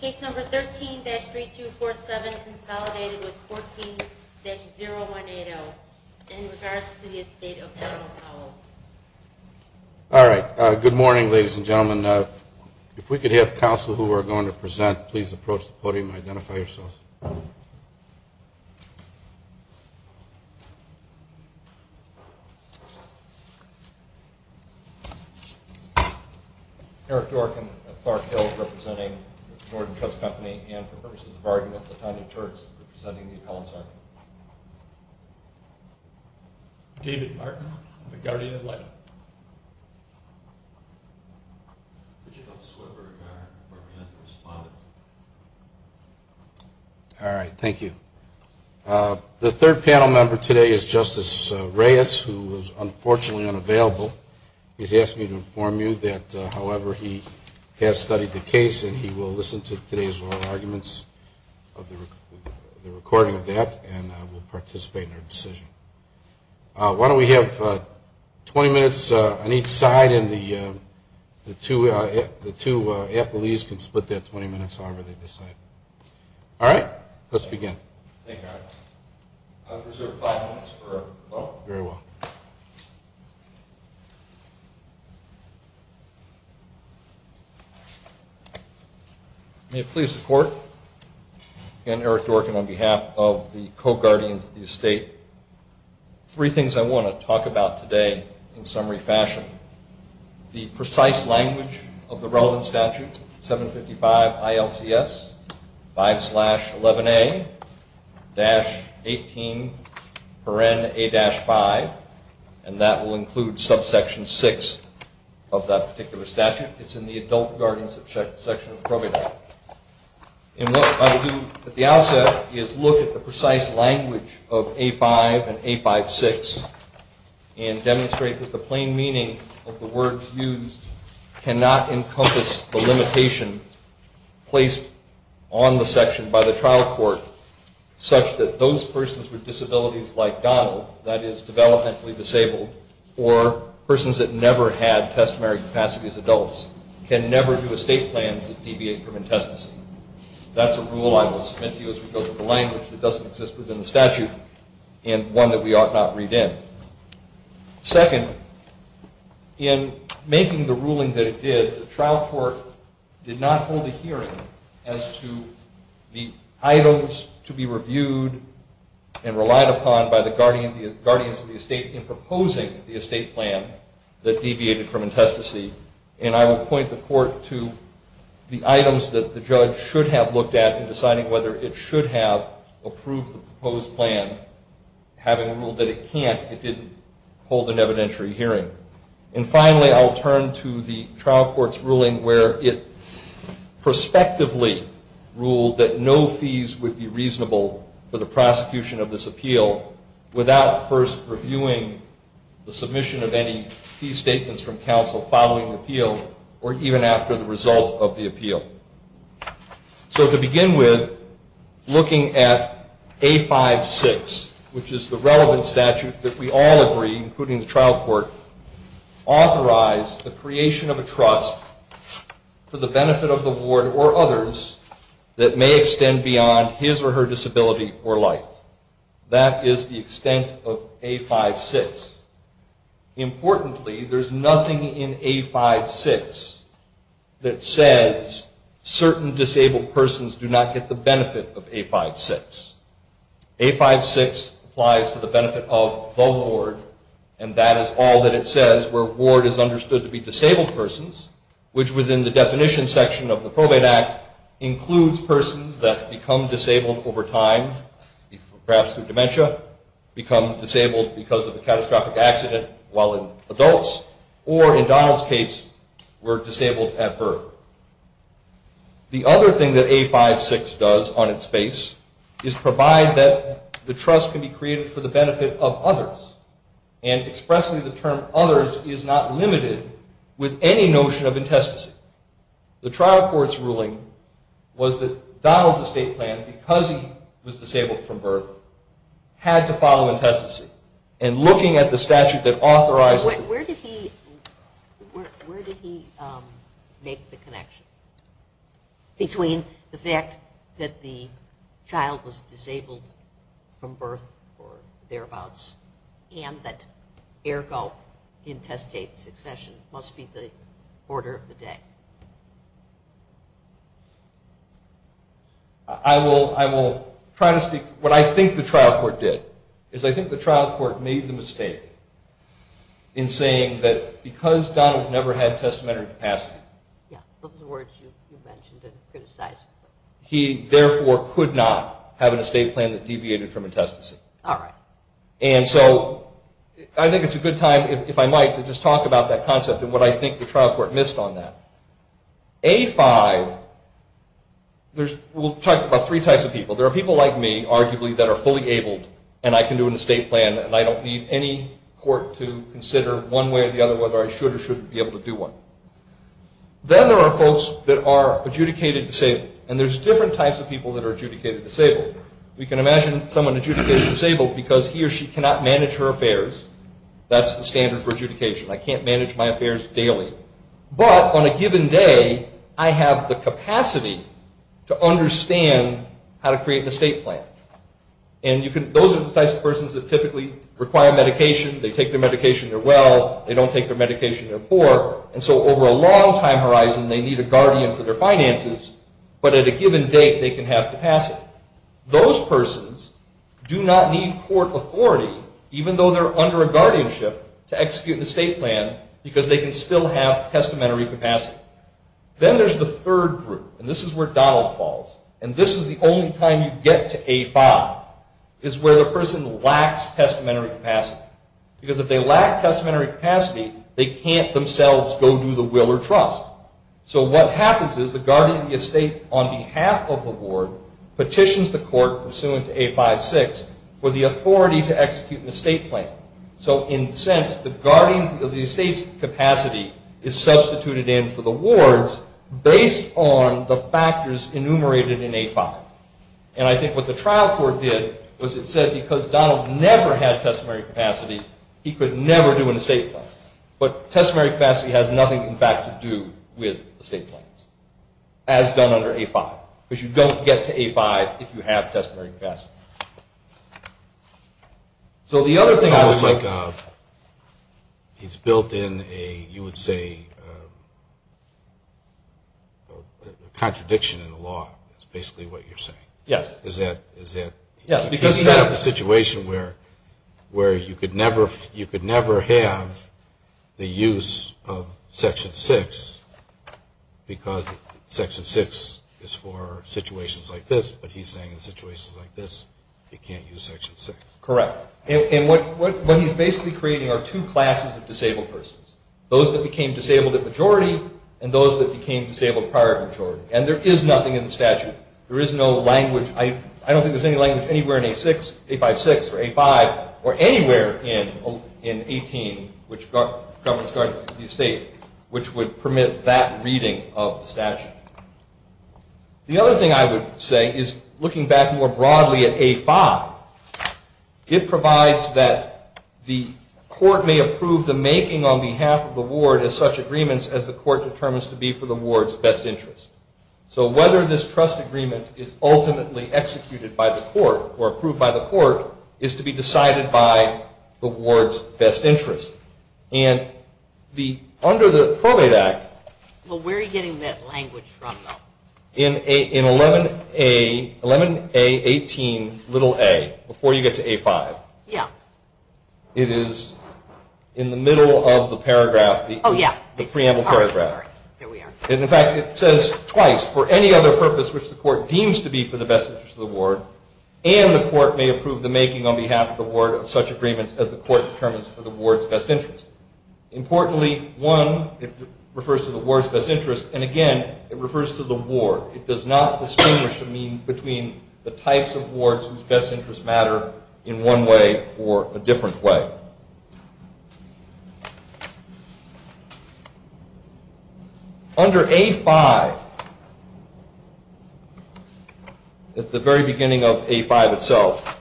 Case number 13-3247 is consolidated with 14-0180 and is charged to the Estate of Howell. All right. Good morning ladies and gentlemen. If we could have counsel who are going to present please approach the podium and identify yourselves. Eric Dworkin of Clark Hills representing the Jordan Trust Company and for purposes of argument the Tynan Turks representing the Council. David Martin of the Guardian of Life. All right. Thank you. The third panel member today is Justice Reyes who is unfortunately unavailable. He's asked me to inform you that, however, he has studied the case and he will listen to today's oral arguments of the recording of that and will participate in the decision. Why don't we have 20 minutes on each side and the two athletes can split that 20 minutes on either side. All right. Let's begin. Thank you, Eric. I'll reserve five minutes for a vote. Very well. May it please the Court, again Eric Dworkin on behalf of the co-Guardian of the Estate. Three things I want to talk about today in summary fashion. The precise language of the relevant statute, 755 ILCS 5-11A-18-5 and that will include subsection 6 of that particular statute. It's in the adult guardianship section of the program. And what I'll do at the outset is look at the precise language of A-5 and A-5-6 and demonstrate that the plain meaning of the words used cannot encompass the limitation placed on the section by the trial court such that those persons with disabilities like Donald, that is developmentally disabled, or persons that never had customary capacity as adults can never do a state plan to deviate from intestacy. That's a rule I will submit to you as a result of the language that doesn't exist within the statute and one that we ought not read in. Second, in making the ruling that it did, the trial court did not hold a hearing as to the items to be reviewed and relied upon by the guardians of the estate in proposing the estate plan that deviated from intestacy. And I will point the court to the items that the judge should have looked at in deciding whether it should have approved the proposed plan, having a rule that it can't if it didn't hold an evidentiary hearing. And finally, I'll turn to the trial court's ruling where it prospectively ruled that no fees would be reasonable for the prosecution of this appeal without first reviewing the submission of any fee statements from counsel following the appeal or even after the result of the appeal. So to begin with, looking at A-5-6, which is the relevant statute that we all agree, including the trial court, authorize the creation of a trust for the benefit of the ward or others that may extend beyond his or her disability or life. That is the extent of A-5-6. Importantly, there's nothing in A-5-6 that says certain disabled persons do not get the benefit of A-5-6. A-5-6 applies for the benefit of the ward, and that is all that it says where ward is understood to be disabled persons, which within the definition section of the Probate Act includes persons that become disabled over time, perhaps through dementia, become disabled because of a catastrophic accident while in adults, or in Donald's case, were disabled at birth. The other thing that A-5-6 does on its face is provide that the trust can be created for the benefit of others, and expressly the term others is not limited with any notion of intestacy. The trial court's ruling was that Donald's estate plan, because he was disabled from birth, had to follow intestacy, and looking at the statute that authorizes... Where did he make the connection between the fact that the child was disabled from birth, or thereabouts, and that, ergo, intestate succession must be the order of the day? I will try to speak... What I think the trial court did is I think the trial court made the mistake in saying that because Donald never had testamentary capacity, he therefore could not have an estate plan that deviated from intestacy. All right. And so, I think it's a good time, if I might, to just talk about that concept and what I think the trial court missed on that. A-5, we'll talk about three types of people. There are people like me, arguably, that are fully abled, and I can do an estate plan, and I don't need any court to consider one way or the other whether I should or shouldn't be able to do one. Then there are folks that are adjudicated disabled. And there's different types of people that are adjudicated disabled. You can imagine someone adjudicated disabled because he or she cannot manage her affairs. That's the standard for adjudication. I can't manage my affairs daily. But on a given day, I have the capacity to understand how to create an estate plan. And those are the types of persons that typically require medication. They take their medication, they're well. They don't take their medication, they're poor. And so, over a long time horizon, they need a guardian for their finances, but at a given date, they can have capacity. Those persons do not need court authority, even though they're under a guardianship, to execute an estate plan because they can still have testamentary capacity. Then there's the third group. And this is where Donald falls. And this is the only time you get to A-5, is where the person lacks testamentary capacity. Because if they lack testamentary capacity, they can't themselves go do the will or trust. So what happens is the guardian of the estate, on behalf of the ward, petitions the court, pursuant to A-5-6, for the authority to execute an estate plan. So in a sense, the guardian of the estate's capacity is substituted in for the ward's based on the factors enumerated in A-5. And I think what the trial court did was it said because Donald never had testamentary capacity, he could never do an estate plan. But testamentary capacity has nothing, in fact, to do with estate plans, as done under A-5. Because you don't get to A-5 if you have testamentary capacity. So the other thing I would think of is built in a, you would say, contradiction in the law. That's basically what you're saying. Yes. Because you have a situation where you could never have the use of Section 6, because Section 6 is for situations like this. But he's saying in situations like this, you can't use Section 6. Correct. And what he's basically creating are two classes of disabled persons. Those that became disabled at majority, and those that became disabled prior to majority. And there is nothing in the statute. There is no language. I don't think there's any language anywhere in A-6, A-5-6, or A-5, or anywhere in A-18, which government started to be safe, which would permit that reading of the statute. The other thing I would say is, looking back more broadly at A-5, it provides that the court may approve the making on behalf of the ward of such agreements as the court determines to be for the ward's best interest. So whether this trust agreement is ultimately executed by the court, or approved by the court, is to be decided by the ward's best interest. And under the Probate Act... Well, where are you getting that language from, though? In 11A-18-a, before you get to A-5. Yeah. It is in the middle of the preamble paragraph. In fact, it says twice, for any other purpose which the court deems to be for the best interest of the ward, and the court may approve the making on behalf of the ward of such agreements as the court determines for the ward's best interest. Importantly, one, it refers to the ward's best interest, and again, it refers to the ward. It does not distinguish between the types of wards whose best interests matter in one way or a different way. Under A-5, at the very beginning of A-5 itself,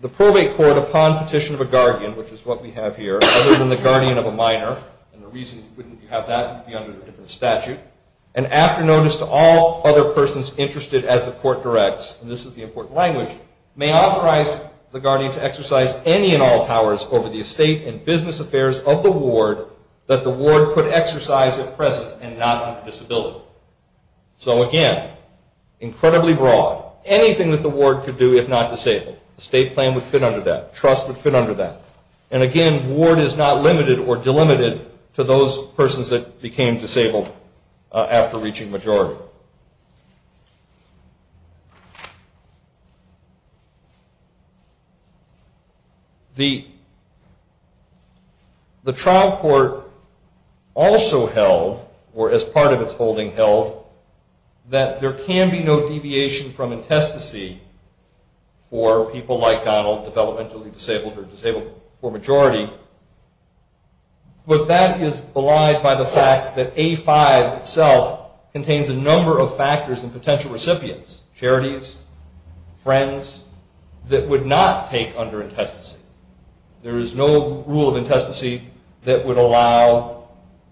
the probate court, upon petition of a guardian, which is what we have here, other than the guardian of a minor, and the reason you have that would be under a different statute, and after notice to all other persons interested as the court directs, and this is the important language, may authorize the guardian to exercise any and all powers over the estate and business affairs of the ward that the ward could exercise at present and not have a disability. So again, incredibly broad. Anything that the ward could do if not disabled. Estate claim would fit under that. Trust would fit under that. And again, ward is not limited or delimited to those persons that became disabled after reaching majority. So, the trial court also held, or as part of its holding held, that there can be no deviation from intestacy for people like Donald, developmentally disabled or disabled for majority, but that is belied by the fact that A-5 itself contains a number of factors and potential recipients, charities, friends, that would not take under intestacy. There is no rule of intestacy that would allow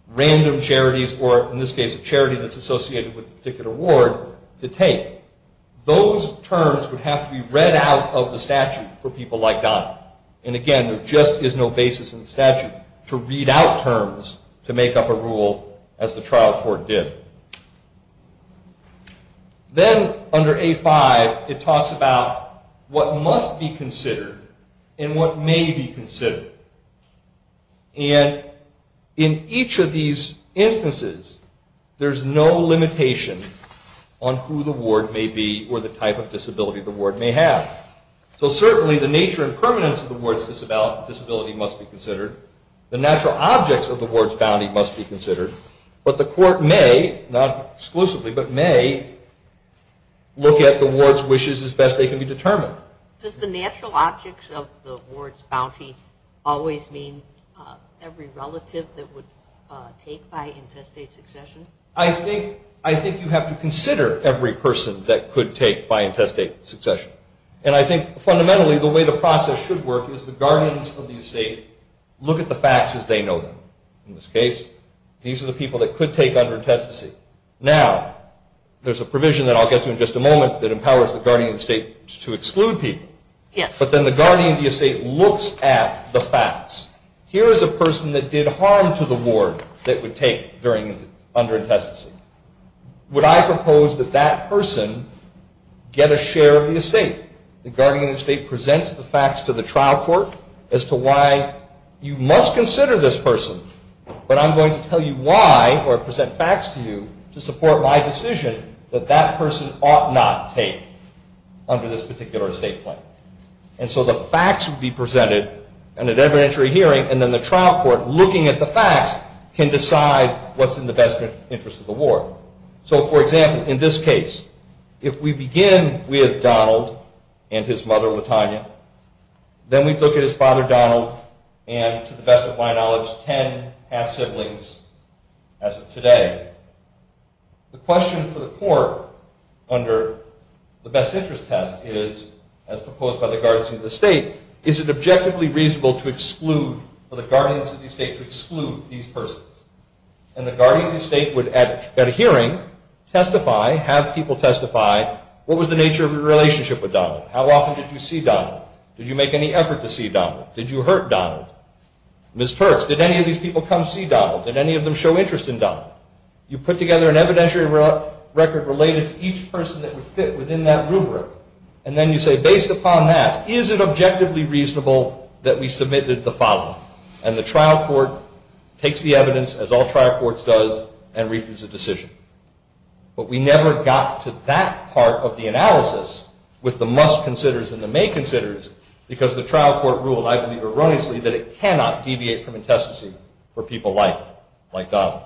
random charities, or in this case a charity that's associated with a particular ward, to take. Those terms would have to be read out of the statute for people like Donald. And again, there just is no basis in the statute to read out terms to make up a rule as the trial court did. Then, under A-5, it talks about what must be considered and what may be considered. And in each of these instances, there's no limitation on who the ward may be or the type of disability the ward may have. So certainly, the nature and permanence of the ward's disability must be considered. The natural objects of the ward's bounty must be considered. But the court may, not exclusively, but may look at the ward's wishes as best they can be determined. Does the natural objects of the ward's bounty always mean every relative that would take by intestate succession? I think you have to consider every person that could take by intestate succession. And I think, fundamentally, the way the process should work is the guardians of the estate look at the facts as they know them. In this case, these are the people that could take under intestacy. Now, there's a provision that I'll get to in just a moment that empowers the guardian of the estate to exclude people. But then the guardian of the estate looks at the facts. Here is a person that did harm to the ward that would take under intestacy. Would I propose that that person get a share in the estate? The guardian of the estate presents the facts to the trial court as to why you must consider this person. But I'm going to tell you why or present facts to you to support my decision that that person ought not take under this particular estate plan. And so the facts would be presented in an evidentiary hearing. And then the trial court, looking at the facts, can decide what's in the best interest of the ward. So, for example, in this case, if we begin with Donald and his mother Latonya, then we look at his father Donald and, to the best of my knowledge, ten half-siblings as of today. The question for the court under the best interest test is, as proposed by the guardian of the estate, is it objectively reasonable for the guardian of the estate to exclude these persons? And the guardian of the estate would, at a hearing, testify, have people testify, what was the nature of your relationship with Donald? How often did you see Donald? Did you make any effort to see Donald? Did you hurt Donald? Ms. Perks, did any of these people come see Donald? Did any of them show interest in Donald? You put together an evidentiary record related to each person that would fit within that rubric, and then you say, based upon that, is it objectively reasonable that we submitted the following? And the trial court takes the evidence, as all trial courts does, and reaches a decision. But we never got to that part of the analysis with the must-considers and the may-considers, because the trial court ruled, I believe erroneously, that it cannot deviate from intestacy for people like Donald.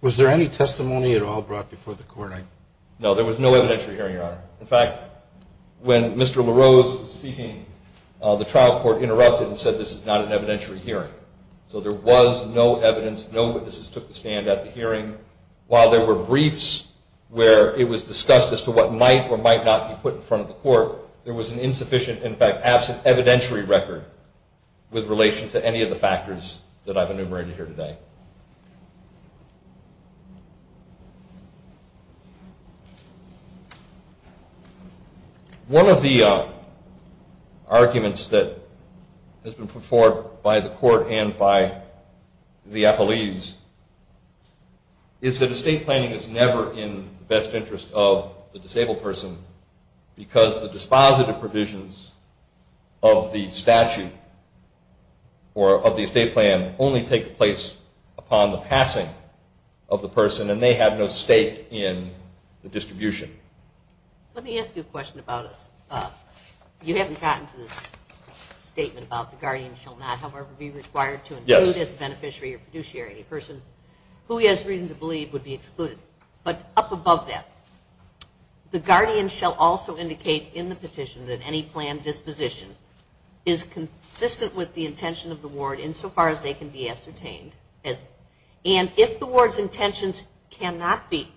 Was there any testimony at all brought before the court? No, there was no evidentiary hearing, Your Honor. In fact, when Mr. LaRose was speaking, the trial court interrupted and said, this is not an evidentiary hearing. So there was no evidence, no witnesses took the stand at the hearing. While there were briefs where it was discussed as to what might or might not be put in front of the court, there was an insufficient, in fact, absent evidentiary record with relation to any of the factors that I've enumerated here today. One of the arguments that has been put forward by the court and by the athletes is that estate planning is never in the best interest of the disabled person, because the dispositive provisions of the statute, or of the estate plan, and they have no stake in the distribution. Let me ask you a question about it. You haven't gotten to the statement about the guardian shall not, however, be required to include as a beneficiary or fiduciary a person who he has reason to believe would be excluded. But up above that, the guardian shall also indicate in the petition that any planned disposition is consistent with the intention of the ward insofar as they can be ascertained and if the ward's intentions cannot be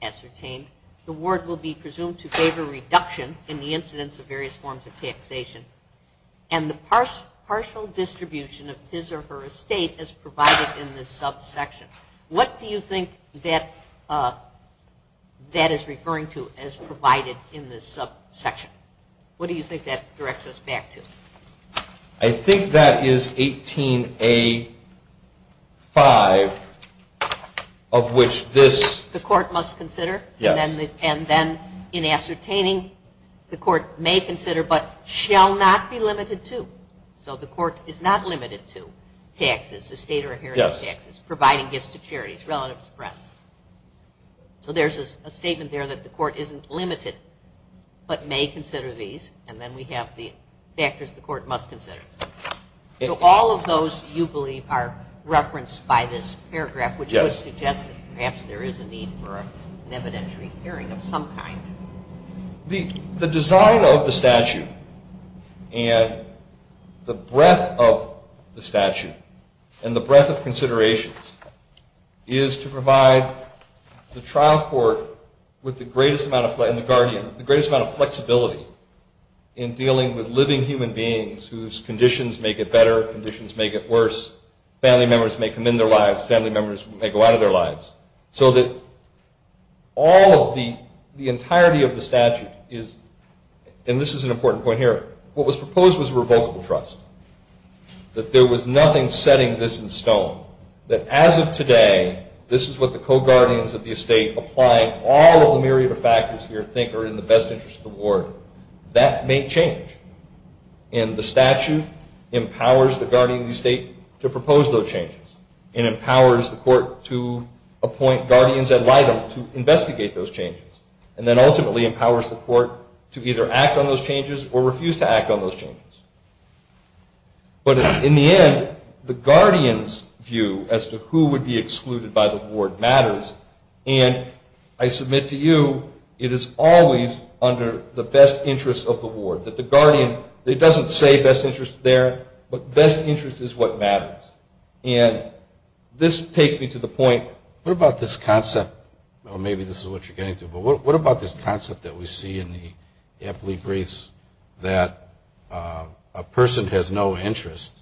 ascertained, the ward will be presumed to favor reduction in the incidence of various forms of taxation and the partial distribution of his or her estate as provided in the subsection. What do you think that is referring to as provided in the subsection? What do you think that directs us back to? I think that is 18A5, of which this... The court must consider? Yes. And then in ascertaining, the court may consider, but shall not be limited to. So the court is not limited to taxes, estate or inheritance taxes, providing gifts to charities, relatives, friends. So there's a statement there that the court isn't limited, but may consider these, and then we have the factors the court must consider. So all of those, you believe, are referenced by this paragraph, which would suggest that perhaps there is a need for an evidentiary hearing of some kind. The design of the statute and the breadth of the statute and the breadth of considerations is to provide the trial court with the greatest amount of flexibility in dealing with living human beings whose conditions may get better, conditions may get worse, family members may come in their lives, family members may go out of their lives, so that all of the entirety of the statute is... And this is an important point here. What was proposed was a revocable trust, that there was nothing setting this in stone, that as of today, this is what the co-guardians of the estate, applying all of the myriad of factors here, think are in the best interest of the ward. That may change. And the statute empowers the guardian of the estate to propose those changes and empowers the court to appoint guardians ad litem to investigate those changes, and then ultimately empowers the court to either act on those changes or refuse to act on those changes. But in the end, the guardian's view as to who would be excluded by the ward matters, and I submit to you, it is always under the best interest of the ward, that the guardian, it doesn't say best interest there, but best interest is what matters. And this takes me to the point, what about this concept, or maybe this is what you're getting to, but what about this concept that we see in the Epley briefs that a person has no interest,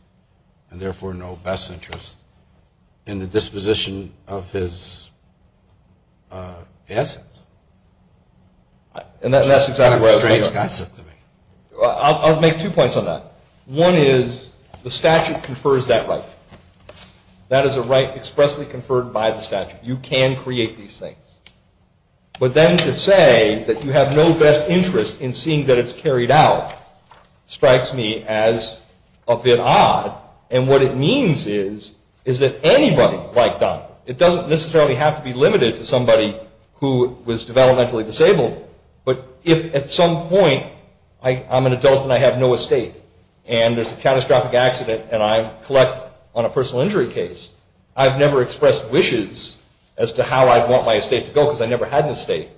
and therefore no best interest, in the disposition of his assets? And that's exactly what I was making of it. I'll make two points on that. One is the statute confers that right. That is a right expressly conferred by the statute. You can create these things. But then to say that you have no best interest in seeing that it's carried out strikes me as a bit odd. And what it means is, is that anybody can write back. It doesn't necessarily have to be limited to somebody who was developmentally disabled, but if at some point I'm an adult and I have no estate, and there's a catastrophic accident and I collect on a personal injury case, I've never expressed wishes as to how I'd want my estate to go because I never had an estate,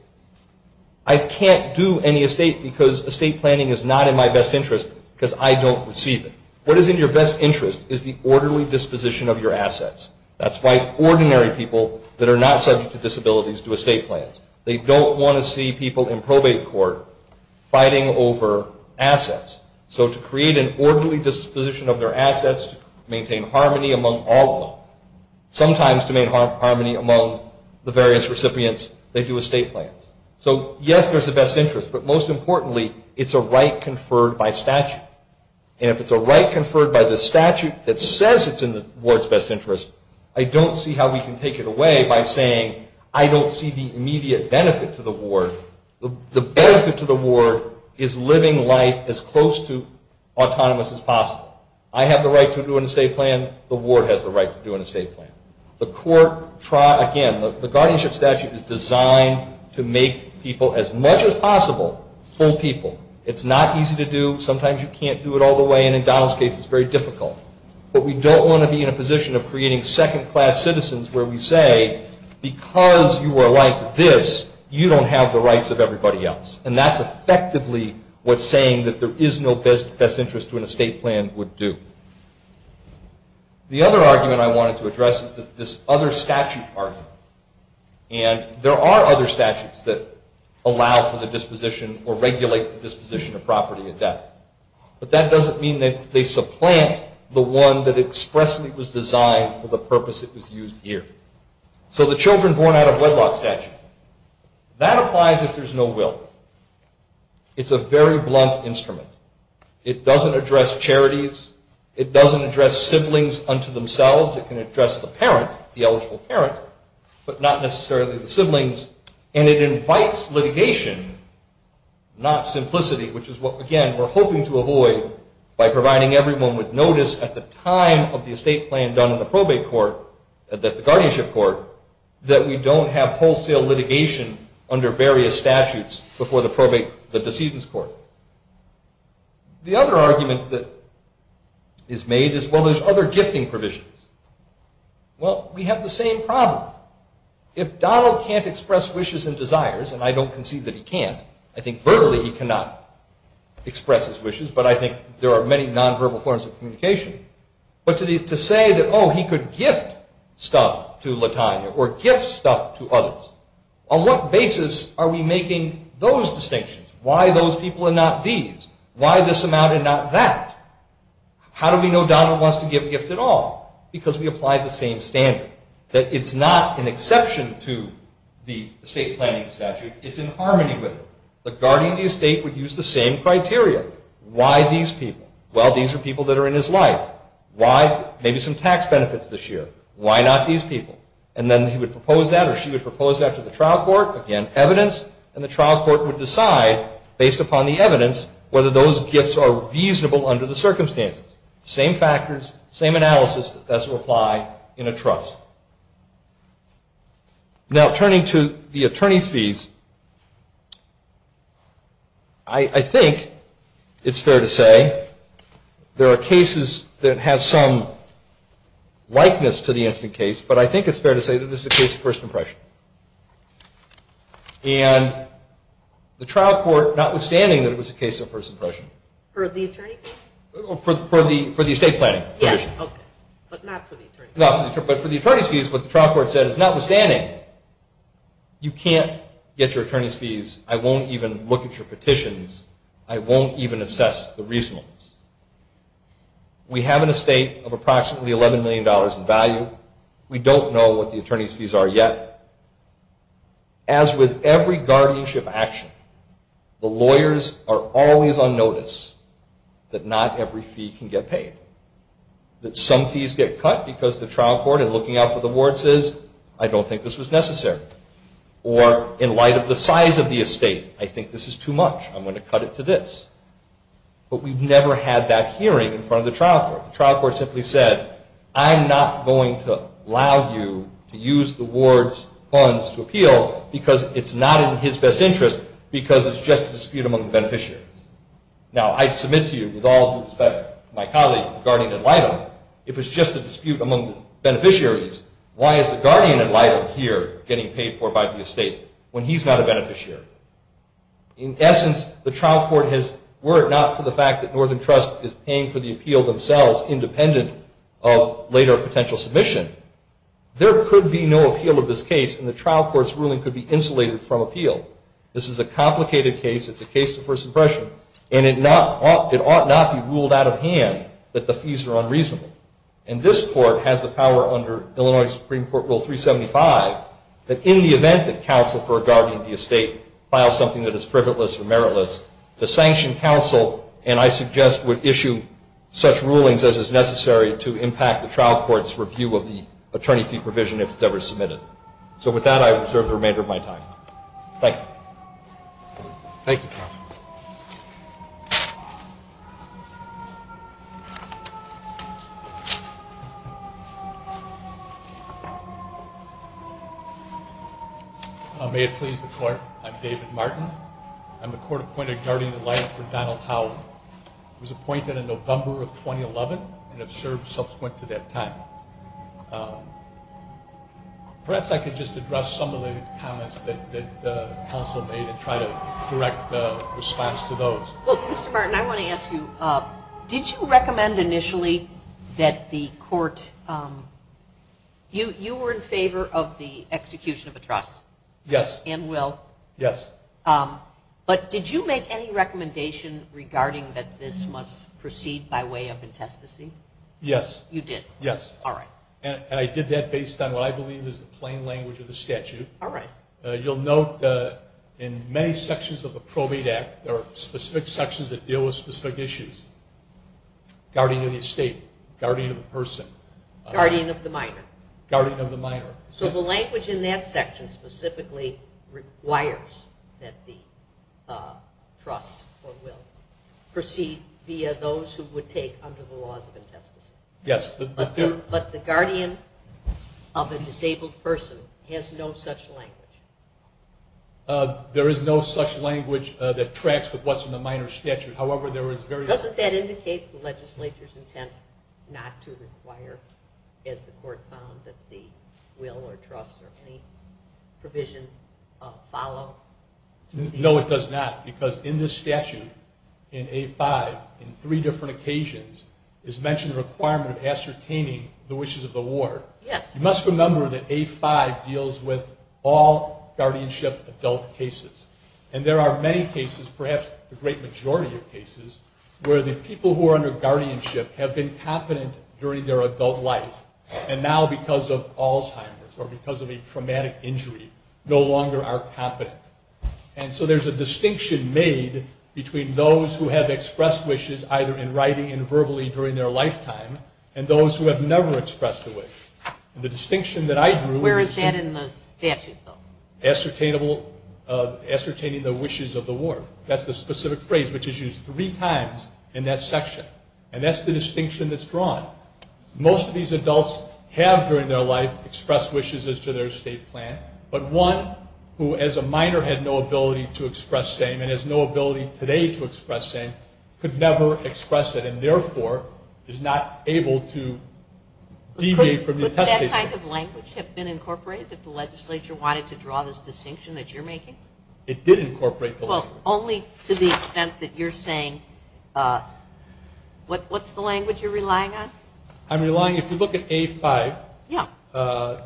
I can't do any estate because estate planning is not in my best interest because I don't receive it. What is in your best interest is the orderly disposition of your assets. That's why ordinary people that are not subject to disabilities do estate plans. They don't want to see people in probate court fighting over assets. So to create an orderly disposition of their assets, to maintain harmony among all of them, sometimes to maintain harmony among the various recipients, they do estate plans. So yes, there's a best interest, but most importantly, it's a right conferred by statute. And if it's a right conferred by the statute that says it's in the ward's best interest, I don't see how we can take it away by saying, I don't see the immediate benefit to the ward. The benefit to the ward is living life as close to autonomous as possible. I have the right to do an estate plan. The ward has the right to do an estate plan. Again, the guardianship statute is designed to make people, as much as possible, full people. It's not easy to do. Sometimes you can't do it all the way, and in Donald's case it's very difficult. But we don't want to be in a position of creating second-class citizens where we say, because you are like this, you don't have the rights of everybody else. And that's effectively what's saying that there is no best interest to an estate plan would do. The other argument I wanted to address is this other statute argument. And there are other statutes that allow for the disposition or regulate the disposition of property with that. But that doesn't mean that they supplant the one that expressly was designed for the purpose it was used here. So the children born out of wedlock statute. That applies if there's no will. It's a very blunt instrument. It doesn't address charities. It doesn't address siblings unto themselves. It can address the parent, the eligible parent, but not necessarily the siblings. And it invites litigation, not simplicity, which is what, again, we're hoping to avoid by providing everyone with notice at the time of the estate plan done in the probate court, the guardianship court, that we don't have wholesale litigation under various statutes before the probate, the decedent's court. The other argument that is made is, well, there's other gifting provisions. Well, we have the same problem. If Donald can't express wishes and desires, and I don't concede that he can't, I think verbally he cannot express his wishes, but I think there are many nonverbal forms of communication. But to say that, oh, he could gift stuff to Latina or gift stuff to others, on what basis are we making those distinctions? Why those people and not these? Why this amount and not that? How do we know Donald wants to give a gift at all? Because we apply the same standard, that it's not an exception to the estate planning statute, it's in harmony with it. The guardian of the estate would use the same criteria. Why these people? Well, these are people that are in his life. Why? Maybe some tax benefits this year. Why not these people? And then he would propose that, or she would propose that to the trial court. Again, evidence. And the trial court would decide, based upon the evidence, whether those gifts are feasible under the circumstances. Same factors, same analysis, but that's applied in a trust. Now, turning to the attorney fees, I think it's fair to say there are cases that have some likeness to the instant case, but I think it's fair to say that this is a case of first impression. And the trial court, notwithstanding that it was a case of first impression. For the attorney? For the estate planning. Okay, but not for the attorney. No, but for the attorney's fees, what the trial court said, notwithstanding, you can't get your attorney's fees, I won't even look at your petitions, I won't even assess the reasonableness. We have an estate of approximately $11 million in value. We don't know what the attorney's fees are yet. As with every guardianship action, the lawyers are always on notice that not every fee can get paid. That some fees get cut because the trial court, in looking out for the wards, says, I don't think this was necessary. Or, in light of the size of the estate, I think this is too much, I'm going to cut it to this. But we've never had that hearing in front of the trial court. The trial court simply said, I'm not going to allow you to use the ward's funds to appeal because it's not in his best interest because it's just a dispute among beneficiaries. Now, I submit to you, with all due respect to my colleague, the guardian ad litem, if it's just a dispute among beneficiaries, why is the guardian ad litem here getting paid for by the estate when he's not a beneficiary? In essence, the trial court has, were it not for the fact that Northern Trust is paying for the appeal themselves, independent of later potential submission, there could be no appeal of this case and the trial court's ruling could be insulated from appeal. This is a complicated case, it's a case of first impression, and it ought not be ruled out of hand that the fees are unreasonable. And this court has the power under Illinois Supreme Court Rule 375 that in the event that counsel for a guardian of the estate files something that is privileged or meritless, the sanctioned counsel, and I suggest, would issue such rulings as is necessary to impact the trial court's review of the attorney fee provision if it's ever submitted. So with that, I reserve the remainder of my time. Thank you. Thank you, counsel. May it please the court, I'm David Martin. I'm the court appointed guardian of life for Donald Howley. I was appointed in November of 2011 and have served subsequent to that time. Perhaps I could just address some of the comments that counsel made and try to direct a response to those. Well, Mr. Martin, I want to ask you, did you recommend initially that the court, you were in favor of the execution of a trial. Yes. And will. Yes. But did you make any recommendation regarding that this must proceed by way of intestacy? Yes. You did? Yes. All right. And I did that based on what I believe is the plain language of the statute. All right. You'll note in many sections of the probate act, there are specific sections that deal with specific issues. Guardian of the state, guardian of the person. Guardian of the minor. Guardian of the minor. So the language in that section specifically requires that the trust or will proceed via those who would take under the laws of intestacy. Yes. But the guardian of a disabled person has no such language. There is no such language that tracks what's in the minor statute. Doesn't that indicate the legislature's intent not to require, as the court found, that the will or trust or any provision follow? No, it does not. Because in this statute, in A-5, in three different occasions, it's mentioned the requirement of ascertaining the wishes of the ward. You must remember that A-5 deals with all guardianship adult cases. And there are many cases, perhaps the great majority of cases, where the people who are under guardianship have been competent during their adult life and now, because of Alzheimer's or because of a traumatic injury, no longer are competent. And so there's a distinction made between those who have expressed wishes, either in writing and verbally during their lifetime, and those who have never expressed a wish. The distinction that I drew is that ascertainable, ascertaining the wishes of the ward. That's the specific phrase which is used three times in that section. And that's the distinction that's drawn. Most of these adults have, during their life, expressed wishes as to their estate plan, but one who, as a minor, had no ability to express same and has no ability today to express same, could never express it and therefore is not able to deviate from the intended plan. Would that type of language have been incorporated if the legislature wanted to draw this distinction that you're making? It did incorporate those. Well, only to the extent that you're saying, what's the language you're relying on? I'm relying, if you look at A5,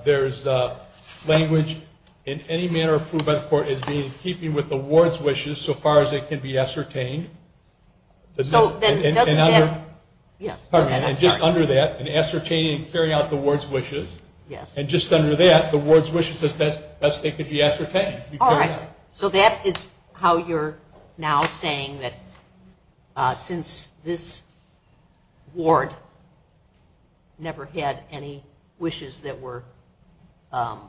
there's language in any manner approved by the court as being in keeping with the ward's wishes so far as it can be ascertained. And just under that, ascertaining and carrying out the ward's wishes. And just under that, the ward's wishes, let's make it be ascertained. All right. So that is how you're now saying that since this ward never had any wishes that were, I'm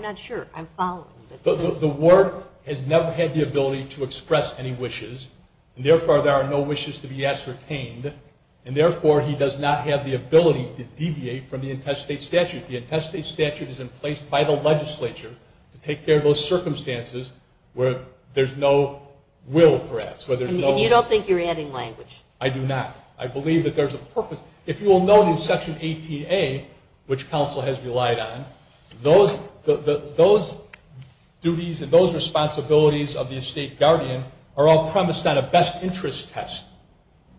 not sure, I'm following. The ward has never had the ability to express any wishes and therefore there are no wishes to be ascertained and therefore he does not have the ability to deviate from the intestate statute. The intestate statute is in place by the legislature to take care of those circumstances where there's no will perhaps. And you don't think you're adding language? I do not. I believe that there's a purpose. If you will note in Section 8PA, which counsel has relied on, those responsibilities of the estate guardian are all premised on a best interest test.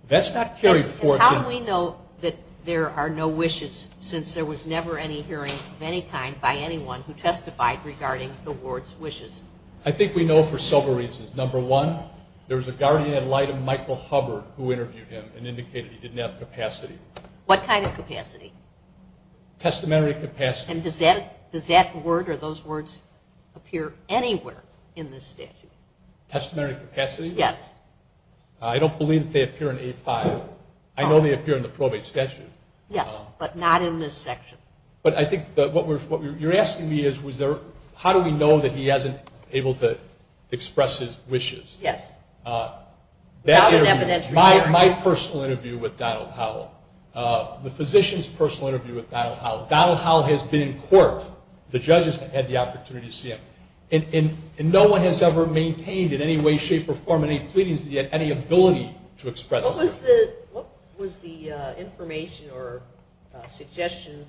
That's not carried forth. How do we know that there are no wishes since there was never any hearing of any kind by anyone who testified regarding the ward's wishes? I think we know for several reasons. Number one, there was a guardian in light of Michael Hubbard who interviewed him and indicated he didn't have capacity. What kind of capacity? Testamentary capacity. And does that word or those words appear anywhere in this statute? Testamentary capacity? Yes. I don't believe that they appear in 8-5. I know they appear in the probate statute. Yes, but not in this statute. But I think what you're asking me is how do we know that he hasn't been able to express his wishes? Yes. That interview, my personal interview with Donald Howell, the physician's personal interview with Donald Howell. Donald Howell has been in court. The judges have had the opportunity to see him. And no one has ever maintained in any way, shape, or form any pleadings that he had any ability to express. What was the information or suggestion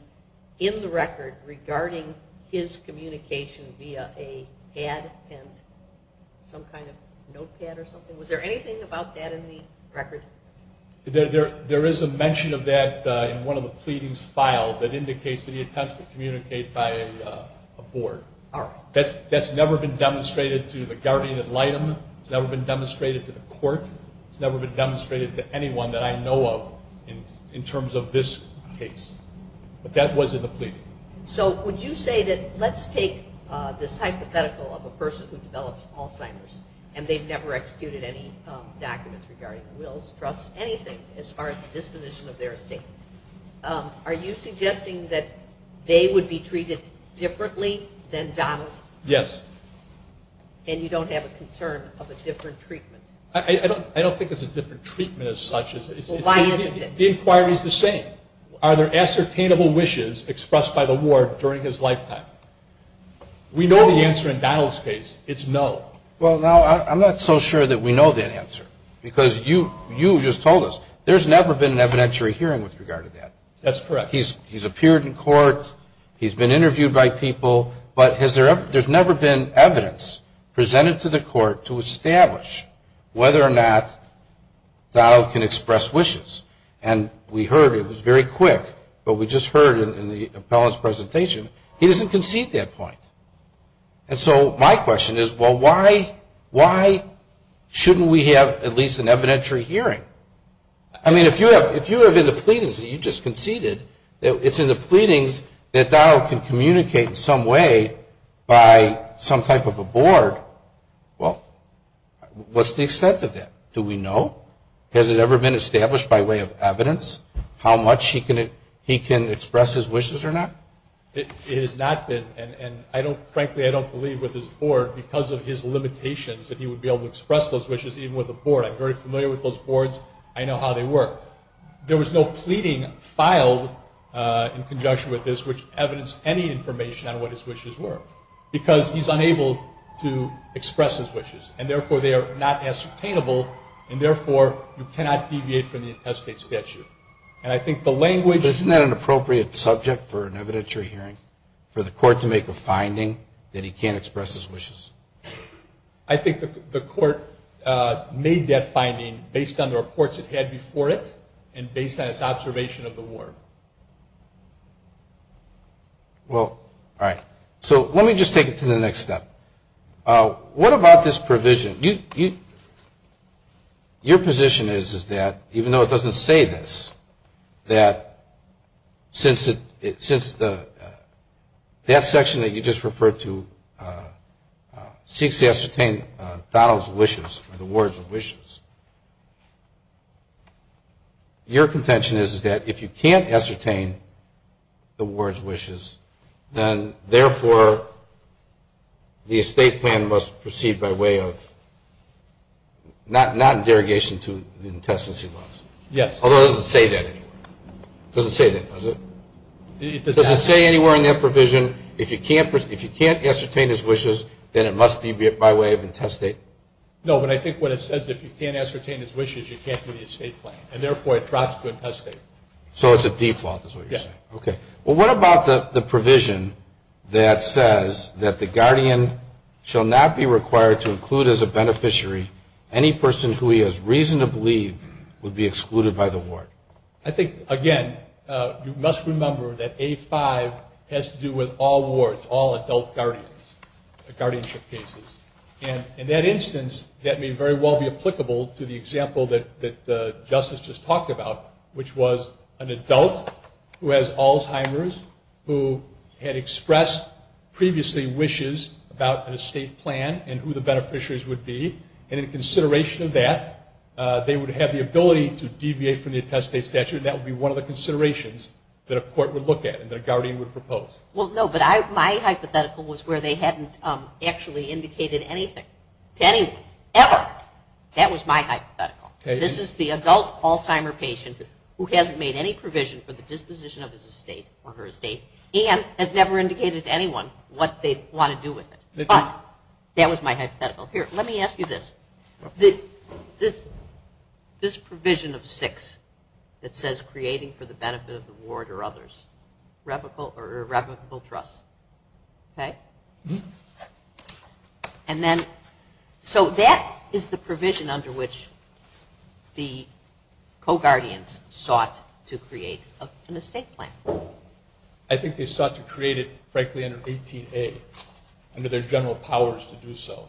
in the record regarding his communication via an ad and some kind of notepad or something? Was there anything about that in the record? There is a mention of that in one of the pleadings filed that indicates that he attempts to communicate by a board. That's never been demonstrated to the guardian ad litem. It's never been demonstrated to the court. It's never been demonstrated to anyone that I know of in terms of this case. But that was in the pleading. So would you say that let's take the hypothetical of a person who develops Alzheimer's and they've never executed any documents regarding wills, trusts, anything, as far as the disposition of their estate. Are you suggesting that they would be treated differently than Donald? Yes. And you don't have a concern of a different treatment? I don't think it's a different treatment as such. Why isn't it? The inquiry is the same. Are there ascertainable wishes expressed by the ward during his lifetime? We know the answer in Donald's case is no. Well, I'm not so sure that we know that answer because you just told us there's never been an evidentiary hearing with regard to that. That's correct. He's appeared in court, he's been interviewed by people, but there's never been evidence presented to the court to establish whether or not Donald can express wishes. And we heard, it was very quick, but we just heard in the appellant's presentation, he doesn't concede that point. And so my question is, well, why shouldn't we have at least an evidentiary hearing? I mean, if you have in the pleadings that you just conceded, it's in the pleadings that Donald can communicate in some way by some type of a board, well, what's the extent of that? Do we know? Has it ever been established by way of evidence how much he can express his wishes or not? It has not been. And, frankly, I don't believe with his board, because of his limitations, that he would be able to express those wishes even with a board. I'm very familiar with those boards. I know how they work. There was no pleading filed in conjunction with this which evidenced any information on what his wishes were because he's unable to express his wishes. And, therefore, they are not as sustainable, and, therefore, you cannot deviate from the intestate statute. And I think the language Isn't that an appropriate subject for an evidentiary hearing, for the court to make a finding that he can't express his wishes? I think the court made that finding based on the reports it had before it and based on its observation of the war. Well, all right. So let me just take it to the next step. What about this provision? Your position is that, even though it doesn't say this, that since that section that you just referred to seeks to ascertain Donald's wishes, the ward's wishes, your contention is that if you can't ascertain the ward's wishes, then, therefore, the estate plan must proceed by way of not in derogation to the intestacy laws. Yes. Although it doesn't say that anywhere. It doesn't say that, does it? It doesn't say anywhere in that provision if you can't ascertain his wishes, then it must be by way of intestate. No, but I think what it says, if you can't ascertain his wishes, you can't do the estate plan. And, therefore, it drops to intestate. So it's a default is what you're saying. Yes. Okay. Well, what about the provision that says that the guardian shall not be required to include as a beneficiary any person who he has reason to believe would be excluded by the ward? I think, again, you must remember that A5 has to do with all wards, all adult guardians, guardianship cases. And in that instance, that may very well be applicable to the example that Justice just talked about, which was an adult who has Alzheimer's who had expressed previously wishes about an estate plan and who the beneficiaries would be. And in consideration of that, they would have the ability to deviate from the intestate statute, and that would be one of the considerations that a court would look at and that a guardian would propose. Well, no, but my hypothetical was where they hadn't actually indicated anything to anyone, ever. That was my hypothetical. This is the adult Alzheimer's patient who hasn't made any provision for the disposition of his estate or her estate and has never indicated to anyone what they want to do with it. But that was my hypothetical. Here, let me ask you this. This provision of 6 that says creating for the benefit of the ward or others, irrevocable trust, okay? And then, so that is the provision under which the co-guardians sought to create an estate plan. I think they sought to create it, frankly, under 18A. I mean, there's general powers to do so.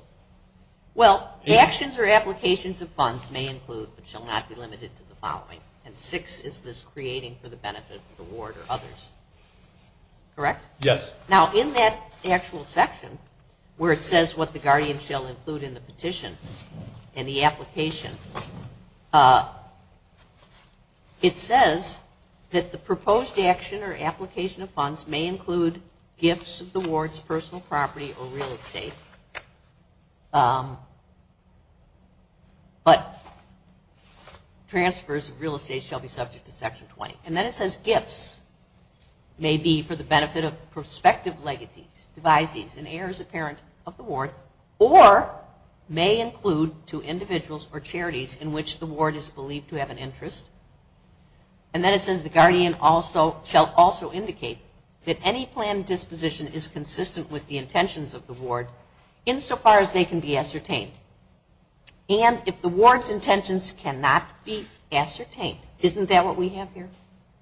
Well, the actions or applications of funds may include but shall not be limited to the following. And 6 is this creating for the benefit of the ward or others. Correct? Yes. Now, in that actual section where it says what the guardians shall include in the petition and the application, it says that the proposed action or application of funds may include gifts of the ward's personal property or real estate, but transfers of real estate shall be subject to Section 20. And then it says gifts may be for the benefit of prospective legacies, devisees, and heirs or parents of the ward, or may include to individuals or charities in which the ward is believed to have an interest. And then it says the guardian shall also indicate that any planned disposition is consistent with the intentions of the ward, insofar as they can be ascertained. And if the ward's intentions cannot be ascertained, isn't that what we have here?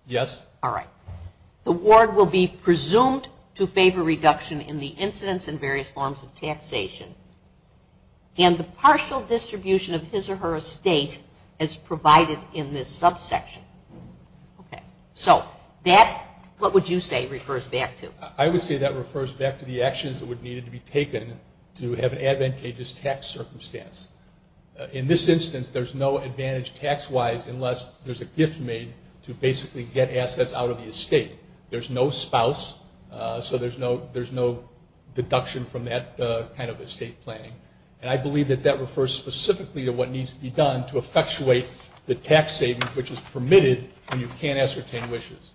Yes. All right. The ward will be presumed to favor reduction in the incidence in various forms of taxation. And the partial distribution of his or her estate is provided in this subsection. Okay. So that, what would you say refers back to? I would say that refers back to the actions that would need to be taken to have advantageous tax circumstance. In this instance, there's no advantage tax-wise unless there's a gift made to basically get assets out of the estate. There's no spouse, so there's no deduction from that kind of estate planning. And I believe that that refers specifically to what needs to be done to effectuate the tax savings which is permitted when you can't ascertain wishes.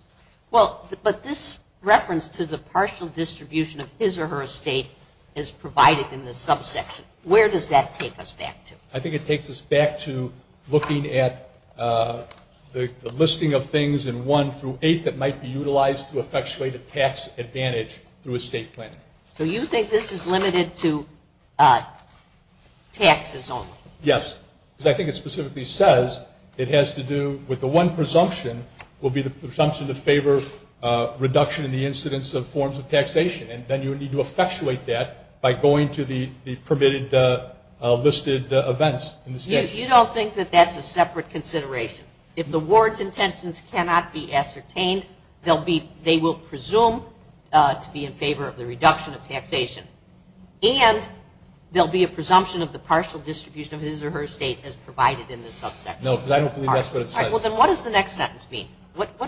Well, but this reference to the partial distribution of his or her estate is provided in this subsection. Where does that take us back to? I think it takes us back to looking at the listing of things in one through eight that might be utilized to effectuate a tax advantage through estate planning. So you think this is limited to taxes only? Yes. I think it specifically says it has to do with the one presumption will be the presumption to favor reduction in the incidence of forms of taxation. And then you need to effectuate that by going to the permitted listed events in the state. Yes, you don't think that that's a separate consideration. If the ward's intentions cannot be ascertained, they will presume to be in favor of the reduction of taxation. And there will be a presumption of the partial distribution of his or her estate as provided in the subsection. No, because I don't believe that's what it says. All right, well then what does the next sentence mean?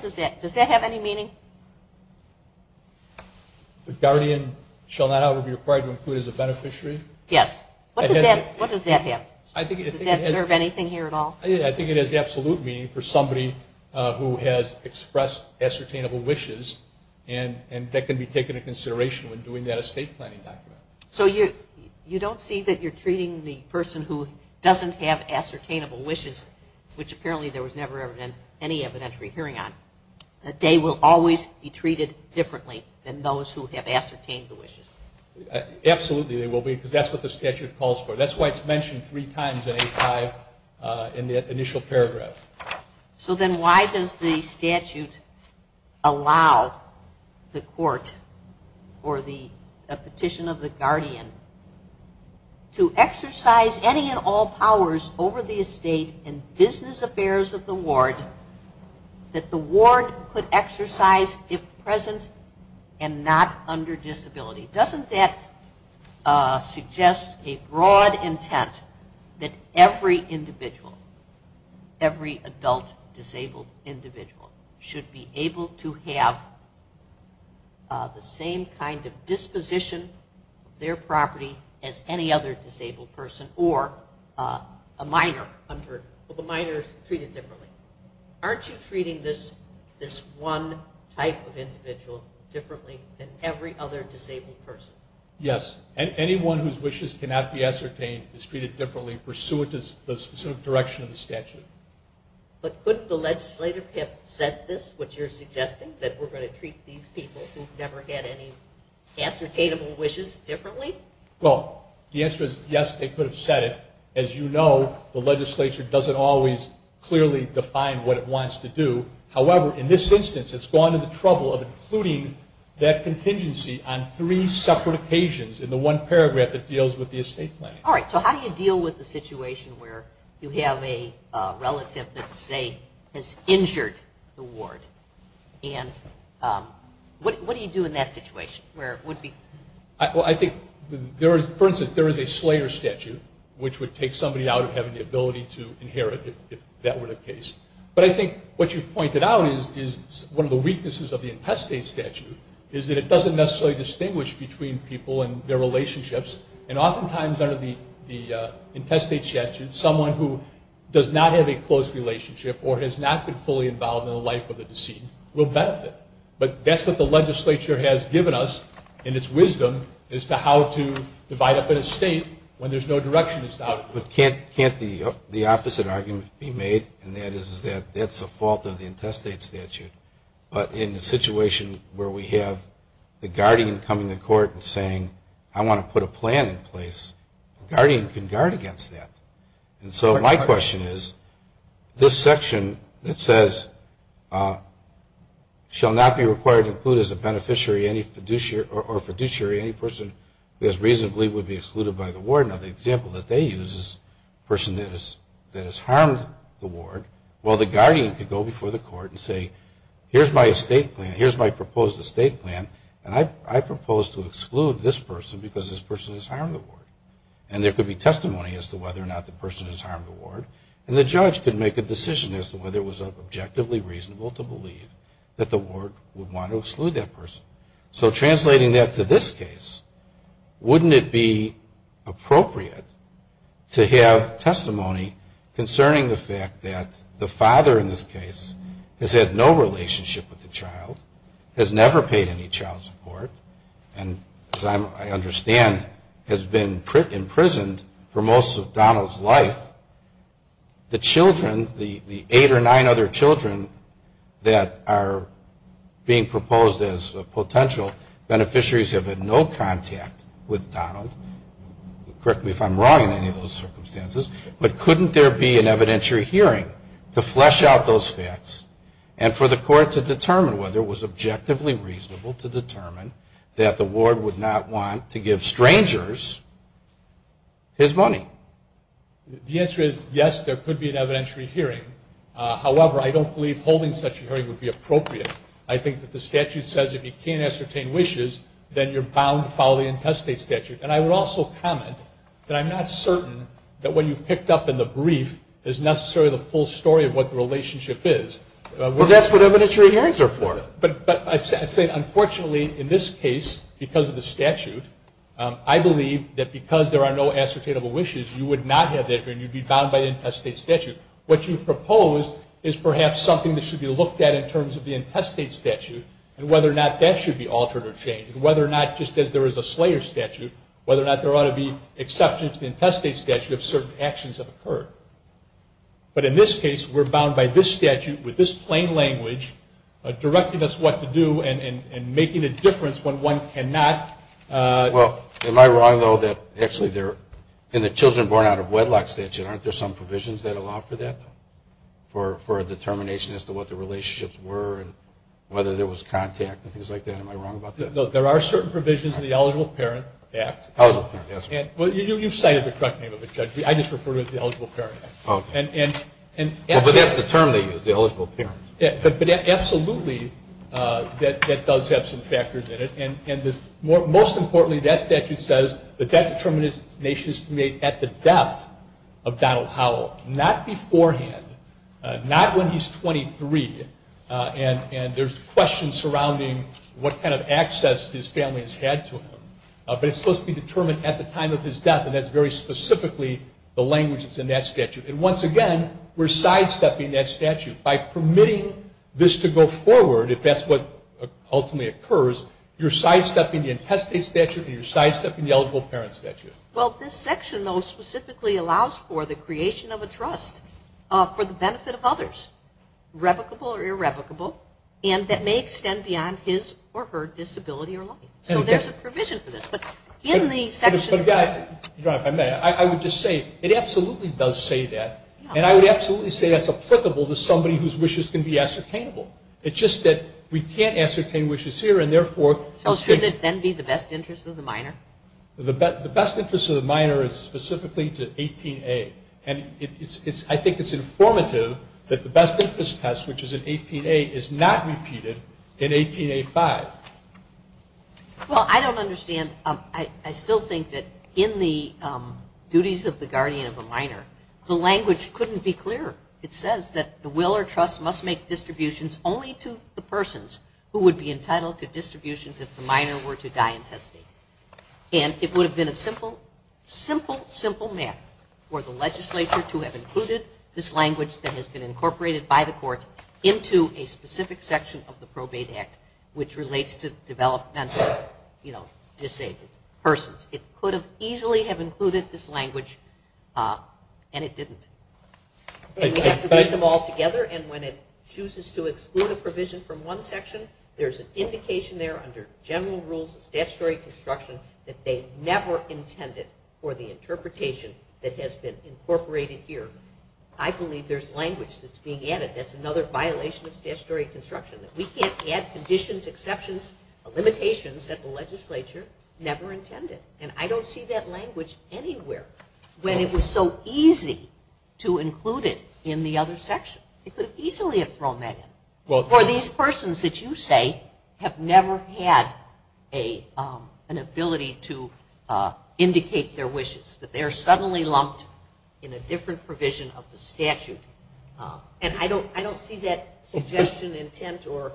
Does that have any meaning? The guardian shall not be required to include as a beneficiary? Yes. What does that have? Does that serve anything here at all? I think it has absolute meaning for somebody who has expressed ascertainable wishes and that can be taken into consideration when doing that estate planning document. So you don't see that you're treating the person who doesn't have ascertainable wishes, which apparently there was never any evidentiary hearing on. They will always be treated differently than those who have ascertained wishes. Absolutely, they will be, because that's what the statute calls for. That's why it's mentioned three times in the initial paragraph. So then why does the statute allow the court or the petition of the guardian to exercise any and all powers over the estate and business affairs of the ward that the ward could exercise if present and not under disability? Doesn't that suggest a broad intent that every individual, every adult disabled individual, should be able to have the same kind of disposition of their property as any other disabled person or a minor. So the minor is treated differently. Aren't you treating this one type of individual differently than every other disabled person? Yes. Anyone whose wishes cannot be ascertained is treated differently pursuant to the specific direction of the statute. But couldn't the legislator have said this, which you're suggesting, that we're going to treat these people who've never had any ascertainable wishes differently? Well, the answer is yes, they could have said it. As you know, the legislature doesn't always clearly define what it wants to do. However, in this instance, it's gone to the trouble of including that contingency on three separate occasions in the one paragraph that deals with the estate plan. All right, so how do you deal with the situation where you have a relative that, say, has injured the ward? And what do you do in that situation? Well, I think, for instance, there is a Slater statute, which would take somebody out of having the ability to inherit if that were the case. But I think what you've pointed out is one of the weaknesses of the intestate statute is that it doesn't necessarily distinguish between people and their relationships. And oftentimes under the intestate statute, someone who does not have a close relationship or has not been fully involved in the life of a decedent will benefit. But that's what the legislature has given us in its wisdom as to how to divide up an estate when there's no direction to start with. Can't the opposite argument be made, and that is that that's a fault of the intestate statute. But in the situation where we have the guardian coming to court and saying, I want to put a plan in place, the guardian can guard against that. And so my question is, this section that says, shall not be required to include as a beneficiary or fiduciary any person who has reasonably would be excluded by the ward. Now, the example that they use is a person that has harmed the ward. Well, the guardian could go before the court and say, here's my estate plan. Here's my proposed estate plan. And I propose to exclude this person because this person has harmed the ward. And there could be testimony as to whether or not the person has harmed the ward. And the judge could make a decision as to whether it was objectively reasonable to believe that the ward would want to exclude that person. So translating that to this case, wouldn't it be appropriate to have testimony concerning the fact that the father in this case has had no relationship with the child, has never paid any child support, and as I understand, has been imprisoned for most of Donald's life. The children, the eight or nine other children that are being proposed as potential beneficiaries have had no contact with Donald. Correct me if I'm wrong in any of those circumstances. But couldn't there be an evidentiary hearing to flesh out those stats and for the court to determine whether it was objectively reasonable to determine that the ward would not want to give strangers his money? The answer is yes, there could be an evidentiary hearing. However, I don't believe holding such a hearing would be appropriate. I think that the statute says if you can't ascertain wishes, then you're bound to follow the intestate statute. And I would also comment that I'm not certain that what you've picked up in the brief is necessarily the full story of what the relationship is. Well, that's what evidentiary hearings are for. But I say, unfortunately, in this case, because of the statute, I believe that because there are no ascertainable wishes, you would not have that and you'd be bound by the intestate statute. What you've proposed is perhaps something that should be looked at in terms of the intestate statute and whether or not that should be altered or changed, whether or not just because there is a slayer statute, whether or not there ought to be exceptions to the intestate statute if certain actions have occurred. But in this case, we're bound by this statute with this plain language directing us what to do and making a difference when one cannot. Well, am I wrong, though, that actually in the children born out of wedlock statute, aren't there some provisions that allow for that, for a determination as to what the relationships were and whether there was contact and things like that? Am I wrong about that? No, there are certain provisions in the Eligible Parent Act. You've cited the correct name of the judge. I just refer to it as the Eligible Parent Act. But that's determining the eligible parent. Absolutely, that does have some factors in it. Most importantly, that statute says that that determination is made at the death of Donald Howell, not beforehand, not when he's 23, and there's questions surrounding what kind of access his family has had to him. But it's supposed to be determined at the time of his death, and that's very specifically the language that's in that statute. And once again, we're sidestepping that statute. By permitting this to go forward, if that's what ultimately occurs, you're sidestepping the intestate statute and you're sidestepping the eligible parent statute. Well, this section, though, specifically allows for the creation of a trust for the benefit of others. Replicable or irreplicable, and that may extend beyond his or her disability or life. So there's a provision for this, but in the section... You know what, if I may, I would just say it absolutely does say that, and I would absolutely say that's applicable to somebody whose wishes can be ascertainable. It's just that we can't ascertain wishes here, and therefore... So should it then be the best interest of the minor? The best interest of the minor is specifically to 18A, and I think it's informative that the best interest test, which is at 18A, is not repeated at 18A5. Well, I don't understand. I still think that in the duties of the guardian of the minor, the language couldn't be clearer. It says that the will or trust must make distributions only to the persons who would be entitled to distributions if the minor were to die intestate. And it would have been a simple, simple, simple math for the legislature to have included this language that has been incorporated by the court into a specific section of the Probate Act, which relates to developmental, you know, disabled persons. It could have easily have included this language, and it didn't. And we have to put them all together, and when it chooses to exclude a provision from one section, there's an indication there under general rules of statutory construction that they never intended for the interpretation that has been incorporated here. I believe there's language that's being added that's another violation of statutory construction, that we can't add conditions, exceptions, limitations that the legislature never intended. And I don't see that language anywhere. When it was so easy to include it in the other section, it could have easily have thrown that in. For these persons that you say have never had an ability to indicate their wishes, that they're suddenly lumped in a different provision of the statute, and I don't see that suggestion, intent, or...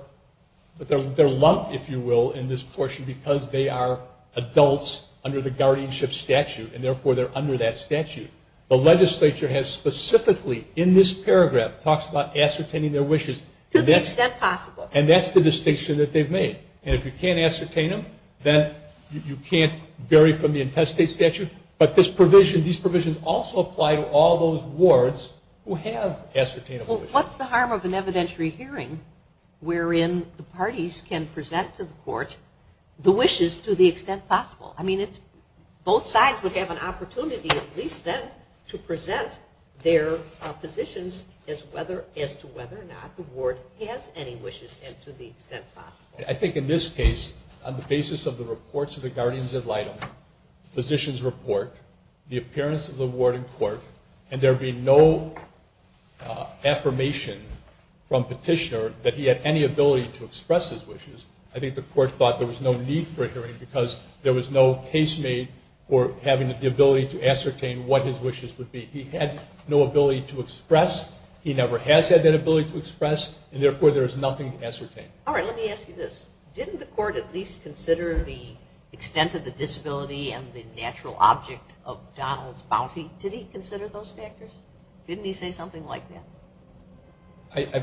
They're lumped, if you will, in this portion because they are adults under the guardianship statute, and therefore they're under that statute. The legislature has specifically, in this paragraph, talks about ascertaining their wishes. To the extent possible. And that's the distinction that they've made. And if you can't ascertain them, then you can't vary from the intestate statute. But this provision, these provisions also apply to all those wards who have ascertained wishes. Well, what's the harm of an evidentiary hearing, wherein the parties can present to the court the wishes to the extent possible? I mean, both sides would have an opportunity, at least then, to present their positions as to whether or not the ward has any wishes to the extent possible. I think in this case, on the basis of the reports of the guardians of Lytton, physician's report, the appearance of the ward in court, and there being no affirmation from petitioner that he had any ability to express his wishes, I think the court thought there was no need for hearing because there was no case made for having the ability to ascertain what his wishes would be. He had no ability to express. He never has had that ability to express. And, therefore, there is nothing to ascertain. All right. Let me ask you this. Didn't the court at least consider the extent of the disability and the natural object of Donald's bounty? Did he consider those factors? Didn't he say something like that?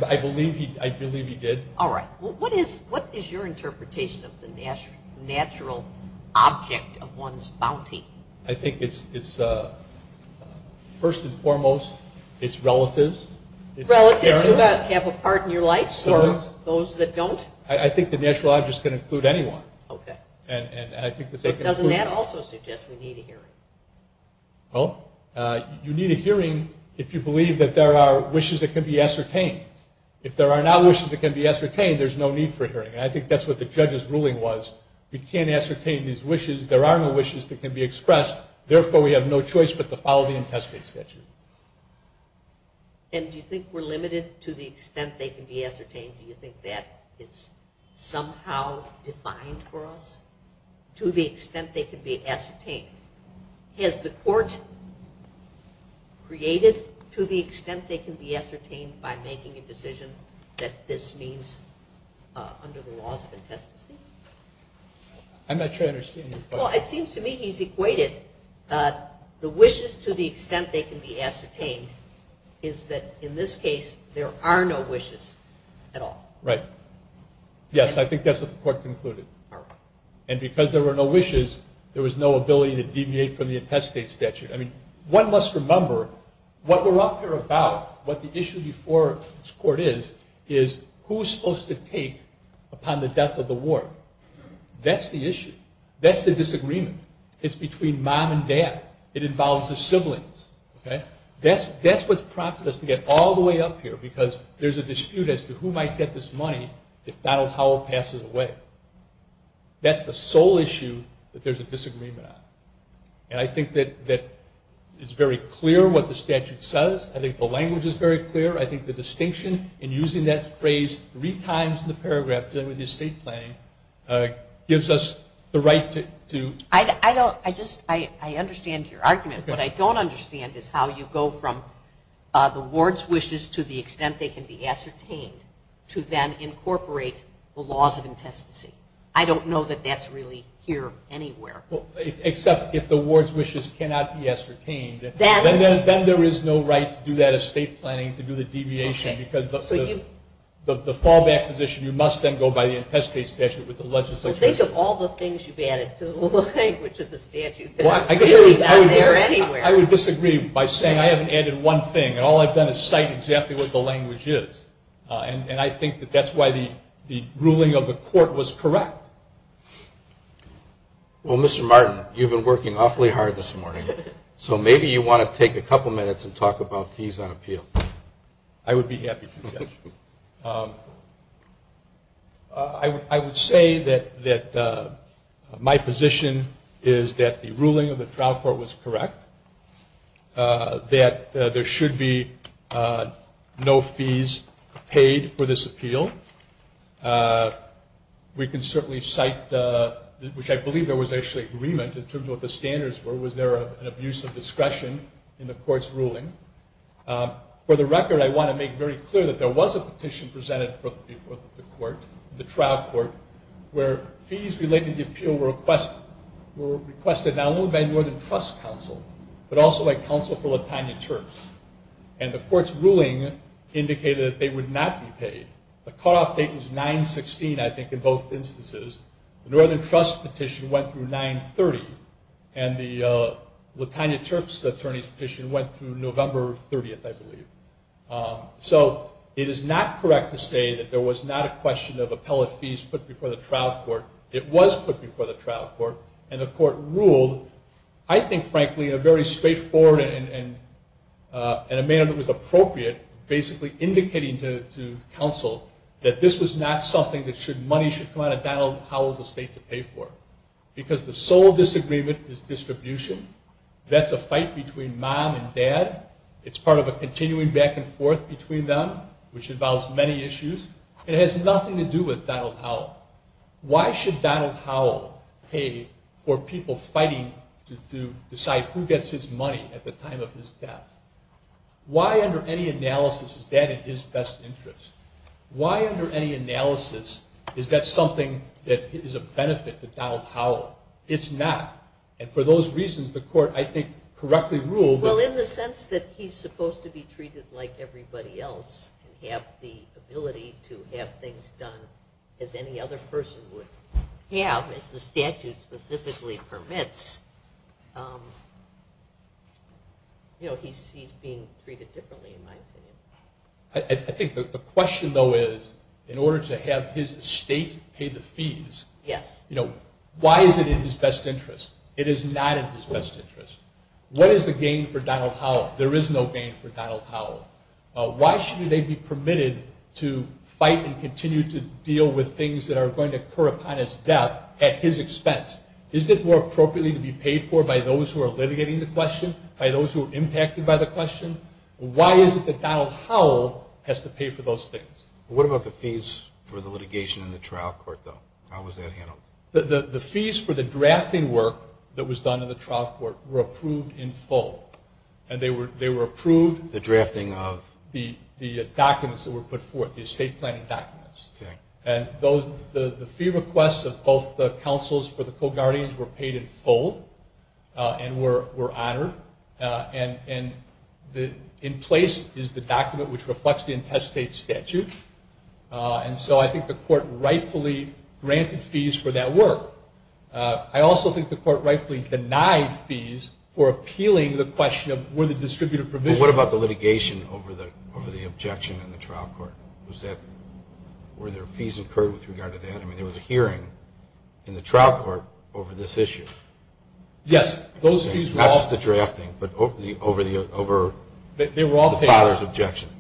I believe he did. All right. What is your interpretation of the natural object of one's bounty? I think it's, first and foremost, it's relatives. Relatives who have a part in your life or those that don't? I think the natural object is going to include anyone. Okay. Doesn't that also suggest we need a hearing? Well, you need a hearing if you believe that there are wishes that can be ascertained. If there are no wishes that can be ascertained, there's no need for a hearing. I think that's what the judge's ruling was. He can't ascertain his wishes. There are no wishes that can be expressed. Therefore, we have no choice but to follow the intestate statute. And do you think we're limited to the extent they can be ascertained? Do you think that it's somehow defined for us to the extent they can be ascertained? Has the court created to the extent they can be ascertained by making a decision that this means under the laws of the intestate? I'm not sure I understand your question. Well, it seems to me he's equated the wishes to the extent they can be ascertained is that, in this case, there are no wishes at all. Right. Yes, I think that's what the court concluded. And because there were no wishes, there was no ability to deviate from the intestate statute. I mean, one must remember what we're up here about, what the issue before this court is, is who's supposed to take upon the death of the ward. That's the issue. That's the disagreement. It's between mom and dad. It involves the siblings. That's what prompted us to get all the way up here, because there's a dispute as to who might get this money if Donald Howell passes away. That's the sole issue that there's a disagreement on. And I think that it's very clear what the statute says. I think the language is very clear. I think the distinction, and using that phrase three times in the paragraph during the estate planning, gives us the right to... I understand your argument. What I don't understand is how you go from the ward's wishes to the extent they can be ascertained to then incorporate the laws of intestacy. I don't know that that's really here anywhere. Except if the ward's wishes cannot be ascertained. Then there is no right to do that estate planning, to do the deviation, because the fallback position, you must then go by the intestate statute with the legislature. But think of all the things you've added to the language of the statute. It's not really down there anywhere. I would disagree by saying I haven't added one thing, and all I've done is cite exactly what the language is. And I think that that's why the ruling of the court was correct. Well, Mr. Martin, you've been working awfully hard this morning, so maybe you want to take a couple minutes and talk about fees on appeal. I would be happy to do that. I would say that my position is that the ruling of the trial court was correct, that there should be no fees paid for this appeal. We can certainly cite, which I believe there was actually agreement in terms of what the standards were, was there an abuse of discretion in the court's ruling. For the record, I want to make very clear that there was a petition presented before the court, the trial court, where fees related to the appeal were requested, not only by the Northern Trust Council, but also by counsel for LaTanya Terps. And the court's ruling indicated that they would not be paid. The call-off date was 9-16, I think, in both instances. The Northern Trust petition went through 9-30, and the LaTanya Terps petition went through November 30th, I believe. So it is not correct to say that there was not a question of appellate fees put before the trial court. It was put before the trial court, and the court ruled, I think, frankly, a very straightforward amendment was appropriate, basically indicating to counsel that this was not something that money should come out of Donald Howell's estate to pay for, because the sole disagreement is distribution. That's a fight between mom and dad. It's part of a continuing back and forth between them, which involves many issues. It has nothing to do with Donald Howell. Why should Donald Howell pay for people fighting to decide who gets his money at the time of his death? Why, under any analysis, is that in his best interest? Why, under any analysis, is that something that is a benefit to Donald Howell? It's not. And for those reasons, the court, I think, correctly ruled that... Well, in the sense that he's supposed to be treated like everybody else, have the ability to have things done as any other person would have, as the statute specifically permits. He's being treated differently, in my opinion. I think the question, though, is, in order to have his estate pay the fees, why is it in his best interest? It is not in his best interest. What is the gain for Donald Howell? There is no gain for Donald Howell. Why should he then be permitted to fight and continue to deal with things that are going to occur upon his death at his expense? Is it more appropriately to be paid for by those who are litigating the question, by those who are impacted by the question? Why is it that Donald Howell has to pay for those things? What about the fees for the litigation in the trial court, though? How was that handled? The fees for the drafting work that was done in the trial court were approved in full. And they were approved... The drafting of... The documents that were put forth, the estate planning documents. Okay. And the fee requests of both the counsels for the co-guardians were paid in full and were honored. And in place is the document which reflects the intestate statute. And so I think the court rightfully granted fees for that work. I also think the court rightfully denied fees for appealing the question of were the distributive provisions... But what about the litigation over the objection in the trial court? Was that... Were there fees incurred with regard to that? I mean, there was a hearing in the trial court over this issue. Yes, those fees were all... Not just the drafting, but over the... They were all paid.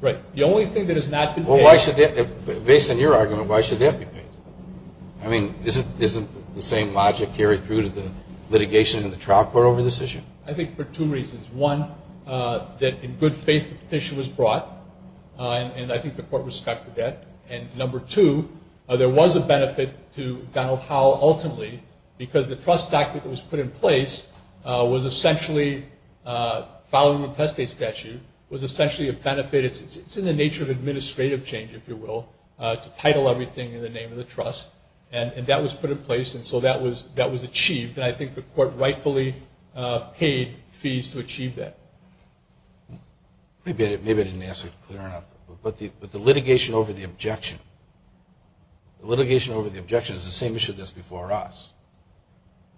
Right. The only thing that is not to pay... Based on your argument, why should they have to pay? I mean, isn't the same logic carried through to the litigation in the trial court over this issue? I think for two reasons. One, that in good faith the petition was brought. And I think the court respected that. And number two, there was a benefit to Donald Powell ultimately, because the trust docket that was put in place was essentially, following the intestate statute, was essentially a benefit. It's in the nature of administrative change, if you will, to title everything in the name of the trust. And that was put in place, and so that was achieved. And I think the court rightfully paid fees to achieve that. Maybe I didn't answer it clear enough. But the litigation over the objection... The litigation over the objection is the same issue that's before us.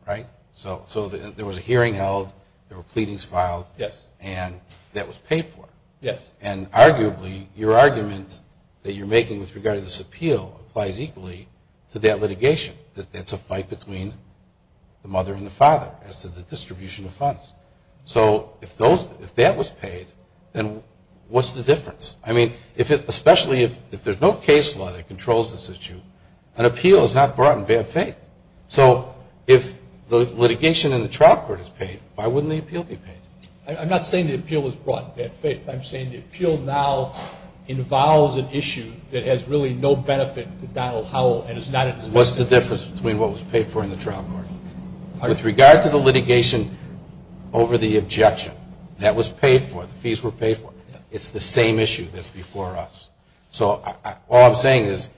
Right? So there was a hearing held, there were pleadings filed, and that was paid for. Yes. And arguably, your argument that you're making with regard to this appeal applies equally to that litigation. It's a fight between the mother and the father as to the distribution of funds. So if that was paid, then what's the difference? I mean, especially if there's no case law that controls this issue, an appeal is not brought in bad faith. So if the litigation in the trial court is paid, why wouldn't the appeal be paid? I'm not saying the appeal was brought in bad faith. I'm saying the appeal now involves an issue that has really no benefit to Donald Powell. What's the difference between what was paid for in the trial court? With regard to the litigation over the objection, that was paid for, the fees were paid for. It's the same issue that's before us. So all I'm saying is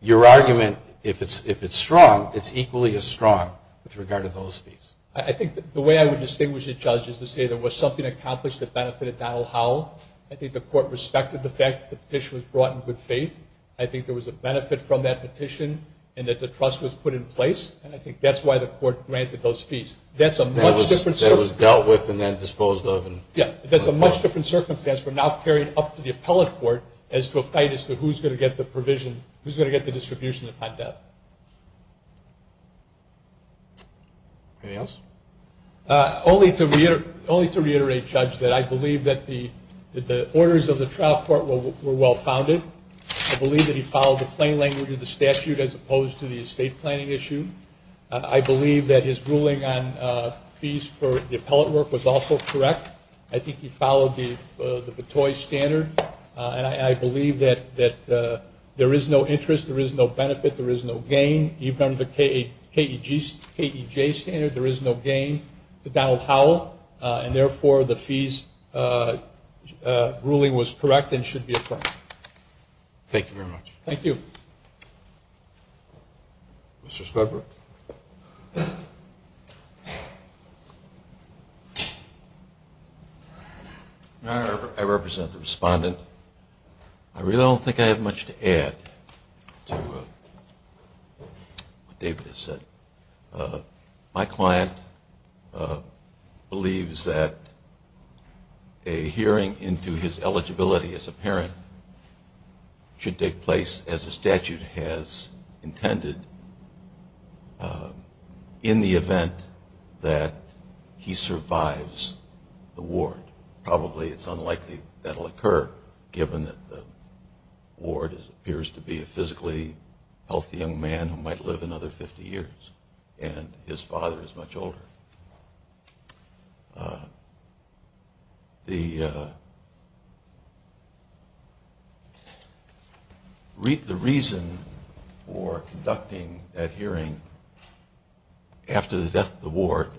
your argument, if it's strong, it's equally as strong with regard to those fees. I think the way I would distinguish the judge is to say there was something accomplished that benefited Donald Powell. I think the court respected the fact that the petition was brought in good faith. I think there was a benefit from that petition and that the trust was put in place. And I think that's why the court granted those fees. That's a much different circumstance. That was dealt with and then disposed of. Yeah, that's a much different circumstance. We're now carrying up to the appellate court as to fight as to who's going to get the provision, who's going to get the distribution of content. Anything else? Only to reiterate, Judge, that I believe that the orders of the trial court were well-founded. I believe that he followed the plain language of the statute as opposed to the estate planning issue. I believe that his ruling on fees for the appellate work was also correct. I think he followed the Bettoys standard. And I believe that there is no interest, there is no benefit, there is no gain. Even the KEJ standard, there is no gain for Donald Powell. And, therefore, the fees ruling was correct and should be approved. Thank you very much. Thank you. Mr. Schroeder? I represent the respondent. I really don't think I have much to add to what David has said. My client believes that a hearing into his eligibility as a parent should take place, as the statute has intended, in the event that he survives the ward. Probably it's unlikely that will occur, given that the ward appears to be a physically healthy young man who might live another 50 years, and his father is much older. The reason for conducting that hearing after the death of the ward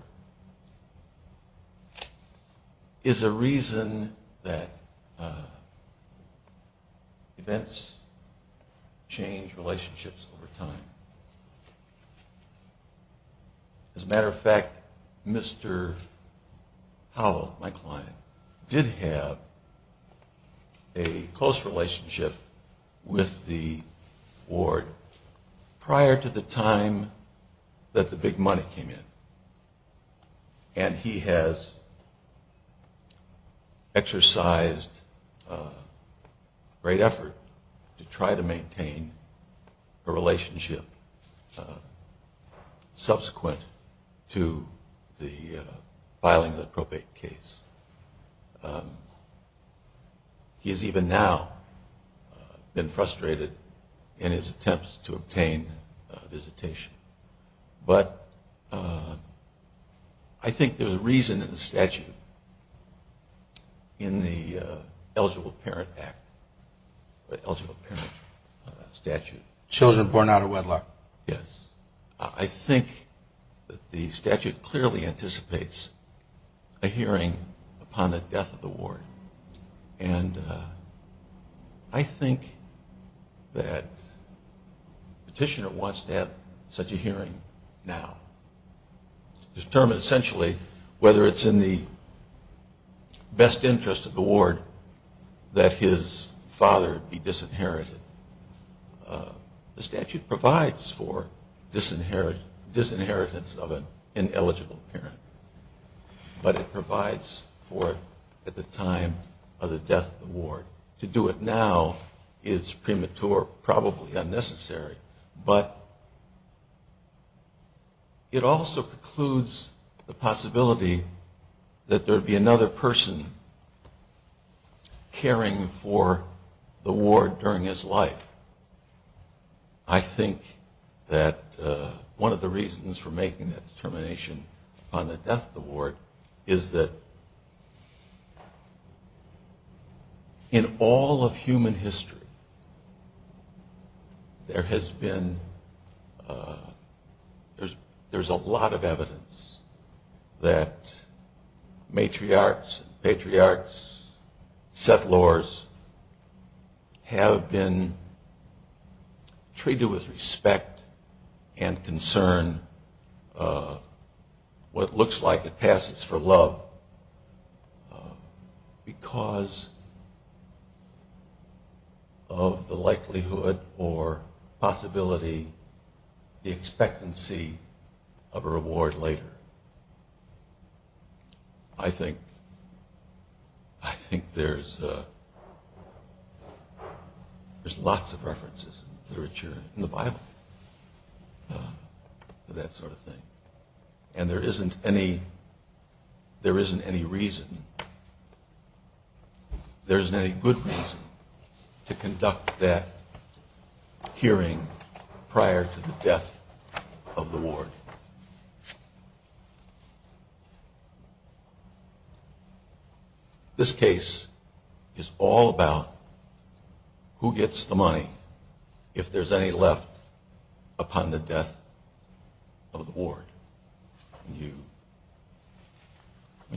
is a reason that events change relationships over time. As a matter of fact, Mr. Powell, my client, did have a close relationship with the ward prior to the time that the big money came in. And he has exercised great effort to try to maintain a relationship subsequent to the filing of the probate case. He's even now been frustrated in his attempts to obtain visitation. But I think there's a reason in the statute, in the eligible parent act, the eligible parent statute. Children born out of wedlock? Yes. I think the statute clearly anticipates a hearing upon the death of the ward. And I think that the petitioner wants to have such a hearing now to determine essentially whether it's in the best interest of the ward that his father be disinherited. The statute provides for disinheritance of an ineligible parent, but it provides for it at the time of the death of the ward. To do it now is premature, probably unnecessary. But it also precludes the possibility that there would be another person caring for the ward during his life. I think that one of the reasons for making that determination upon the death of the ward is that in all of human history, there has been a lot of evidence that matriarchs, patriarchs, settlers have been treated with respect and concern, what looks like a passage for love, because of the likelihood or possibility, the expectancy of a reward later. I think there's lots of references in the Bible to that sort of thing. And there isn't any reason, there isn't any good reason, to conduct that hearing prior to the death of the ward. This case is all about who gets the money if there's any left upon the death of the ward. When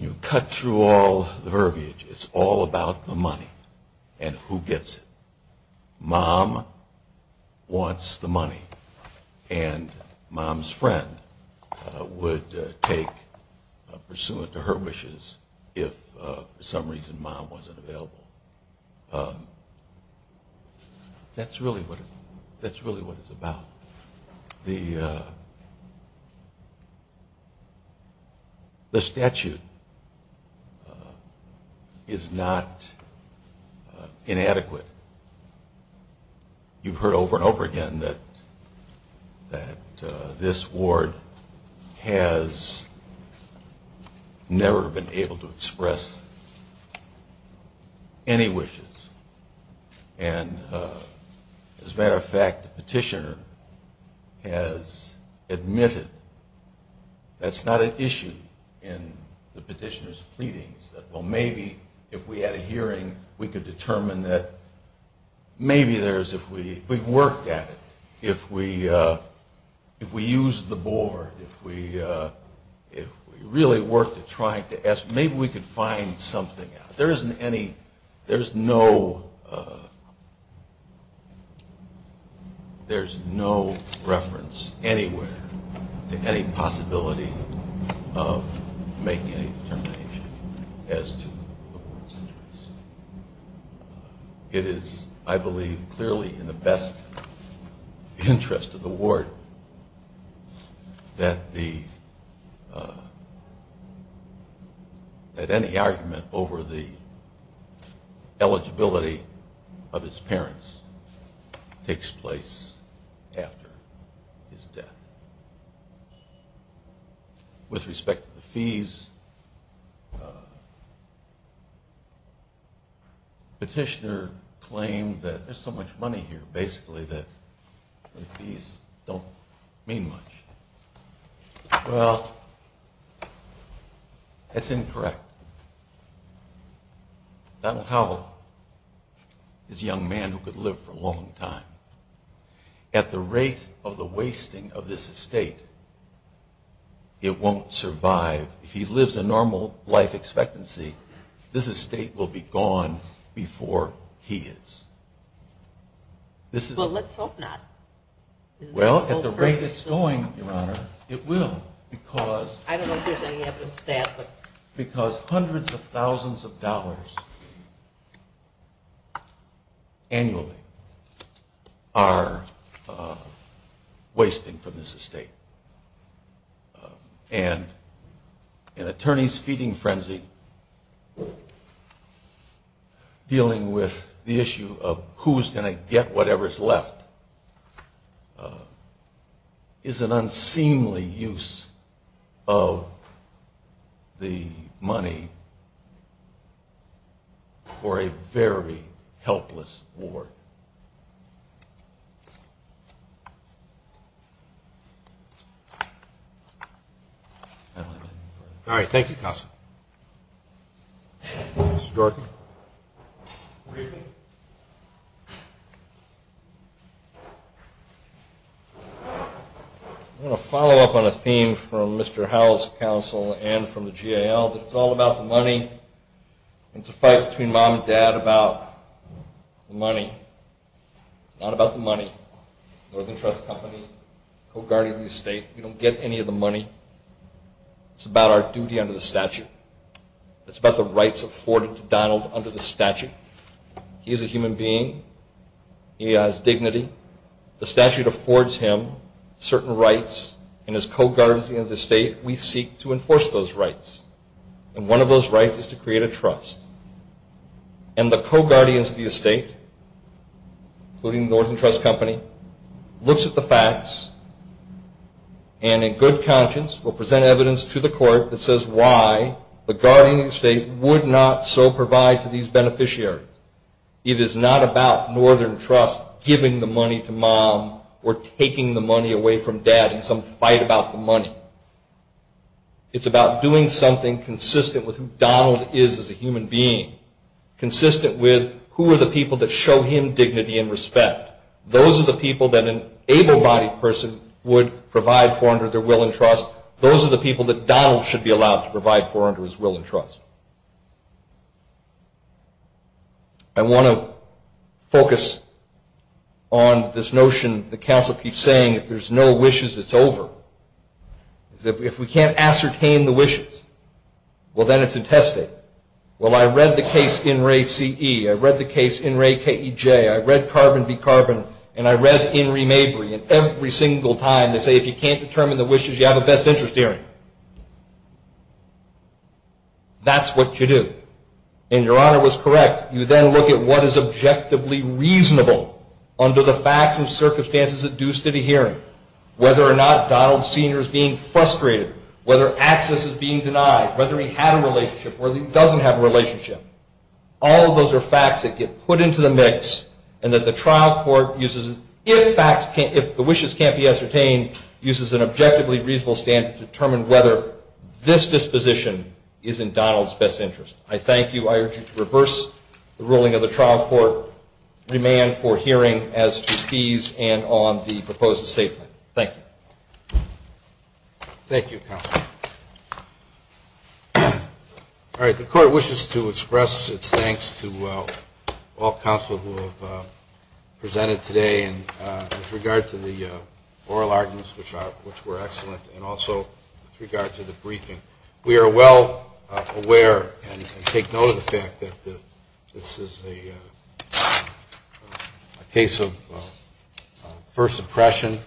you cut through all the verbiage, it's all about the money and who gets it. Mom wants the money, and Mom's friend would take pursuant to her wishes if for some reason Mom wasn't available. That's really what it's about. The statute is not inadequate. You've heard over and over again that this ward has never been able to express any wishes. And as a matter of fact, the petitioner has admitted that's not an issue in the petitioner's pleadings, that well maybe if we had a hearing, we could determine that maybe if we worked at it, if we used the board, if we really worked at trying to ask, maybe we could find something. There isn't any, there's no reference anywhere to any possibility of making a determination as to the ward's interests. It is, I believe, clearly in the best interest of the ward that any argument over the eligibility of its parents takes place after his death. With respect to the fees, the petitioner claimed that there's so much money here, basically that the fees don't mean much. Well, that's incorrect. Donald Howell is a young man who could live for a long time. At the rate of the wasting of this estate, it won't survive. If he lives a normal life expectancy, this estate will be gone before he is. Well, let's hope not. Well, at the rate it's going, Your Honor, it will. I don't know if there's any evidence to that. Because hundreds of thousands of dollars annually are wasting from this estate. And an attorney's feeding frenzy and dealing with the issue of who's going to get whatever's left is an unseemly use of the money for a very helpless ward. Thank you. All right. Thank you, Counsel. Mr. Jordan. I'm going to follow up on a theme from Mr. Howell's counsel and from the GAL. It's all about the money. It's a fight between mom and dad about the money. Not about the money. Northern Trust Company, co-guardian of the estate, we don't get any of the money. It's about our duty under the statute. It's about the rights afforded to Donald under the statute. He is a human being. He has dignity. The statute affords him certain rights, and as co-guardians of the estate, we seek to enforce those rights. And one of those rights is to create a trust. And the co-guardians of the estate, including Northern Trust Company, looks at the facts and in good conscience will present evidence to the court that says why the guardian of the estate would not so provide to these beneficiaries. It is not about Northern Trust giving the money to mom or taking the money away from dad in some fight about the money. It's about doing something consistent with who Donald is as a human being, consistent with who are the people that show him dignity and respect. Those are the people that an able-bodied person would provide for under their will and trust. Those are the people that Donald should be allowed to provide for under his will and trust. I want to focus on this notion that counsel keeps saying, if there's no wishes, it's over. If we can't ascertain the wishes, well, then it's intested. Well, I read the case in Ray CE. I read the case in Ray KEJ. I read Carbon D-Carbon, and I read in Re-Mabry, and every single time they say if you can't determine the wishes, you have a best interest hearing. That's what you do. And your honor was correct. You then look at what is objectively reasonable under the facts and circumstances induced at a hearing, whether or not Donald Sr. is being frustrated, whether access is being denied, whether he had a relationship or doesn't have a relationship. All of those are facts that get put into the mix, and that the trial court uses, if the wishes can't be ascertained, uses an objectively reasonable standard to determine whether this disposition is in Donald's best interest. I thank you. I urge you to reverse the ruling of the trial court, remain for hearing as to fees and on the proposed statement. Thank you. Thank you, counsel. All right. The court wishes to express its thanks to all counsel who have presented today with regard to the oral arguments, which were excellent, and also with regard to the briefing. We are well aware and take note of the fact that this is a case of first impression,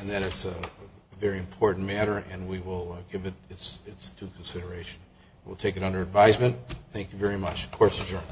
and that it's a very important matter, and we will give it due consideration. We'll take it under advisement. Thank you very much. The court is adjourned.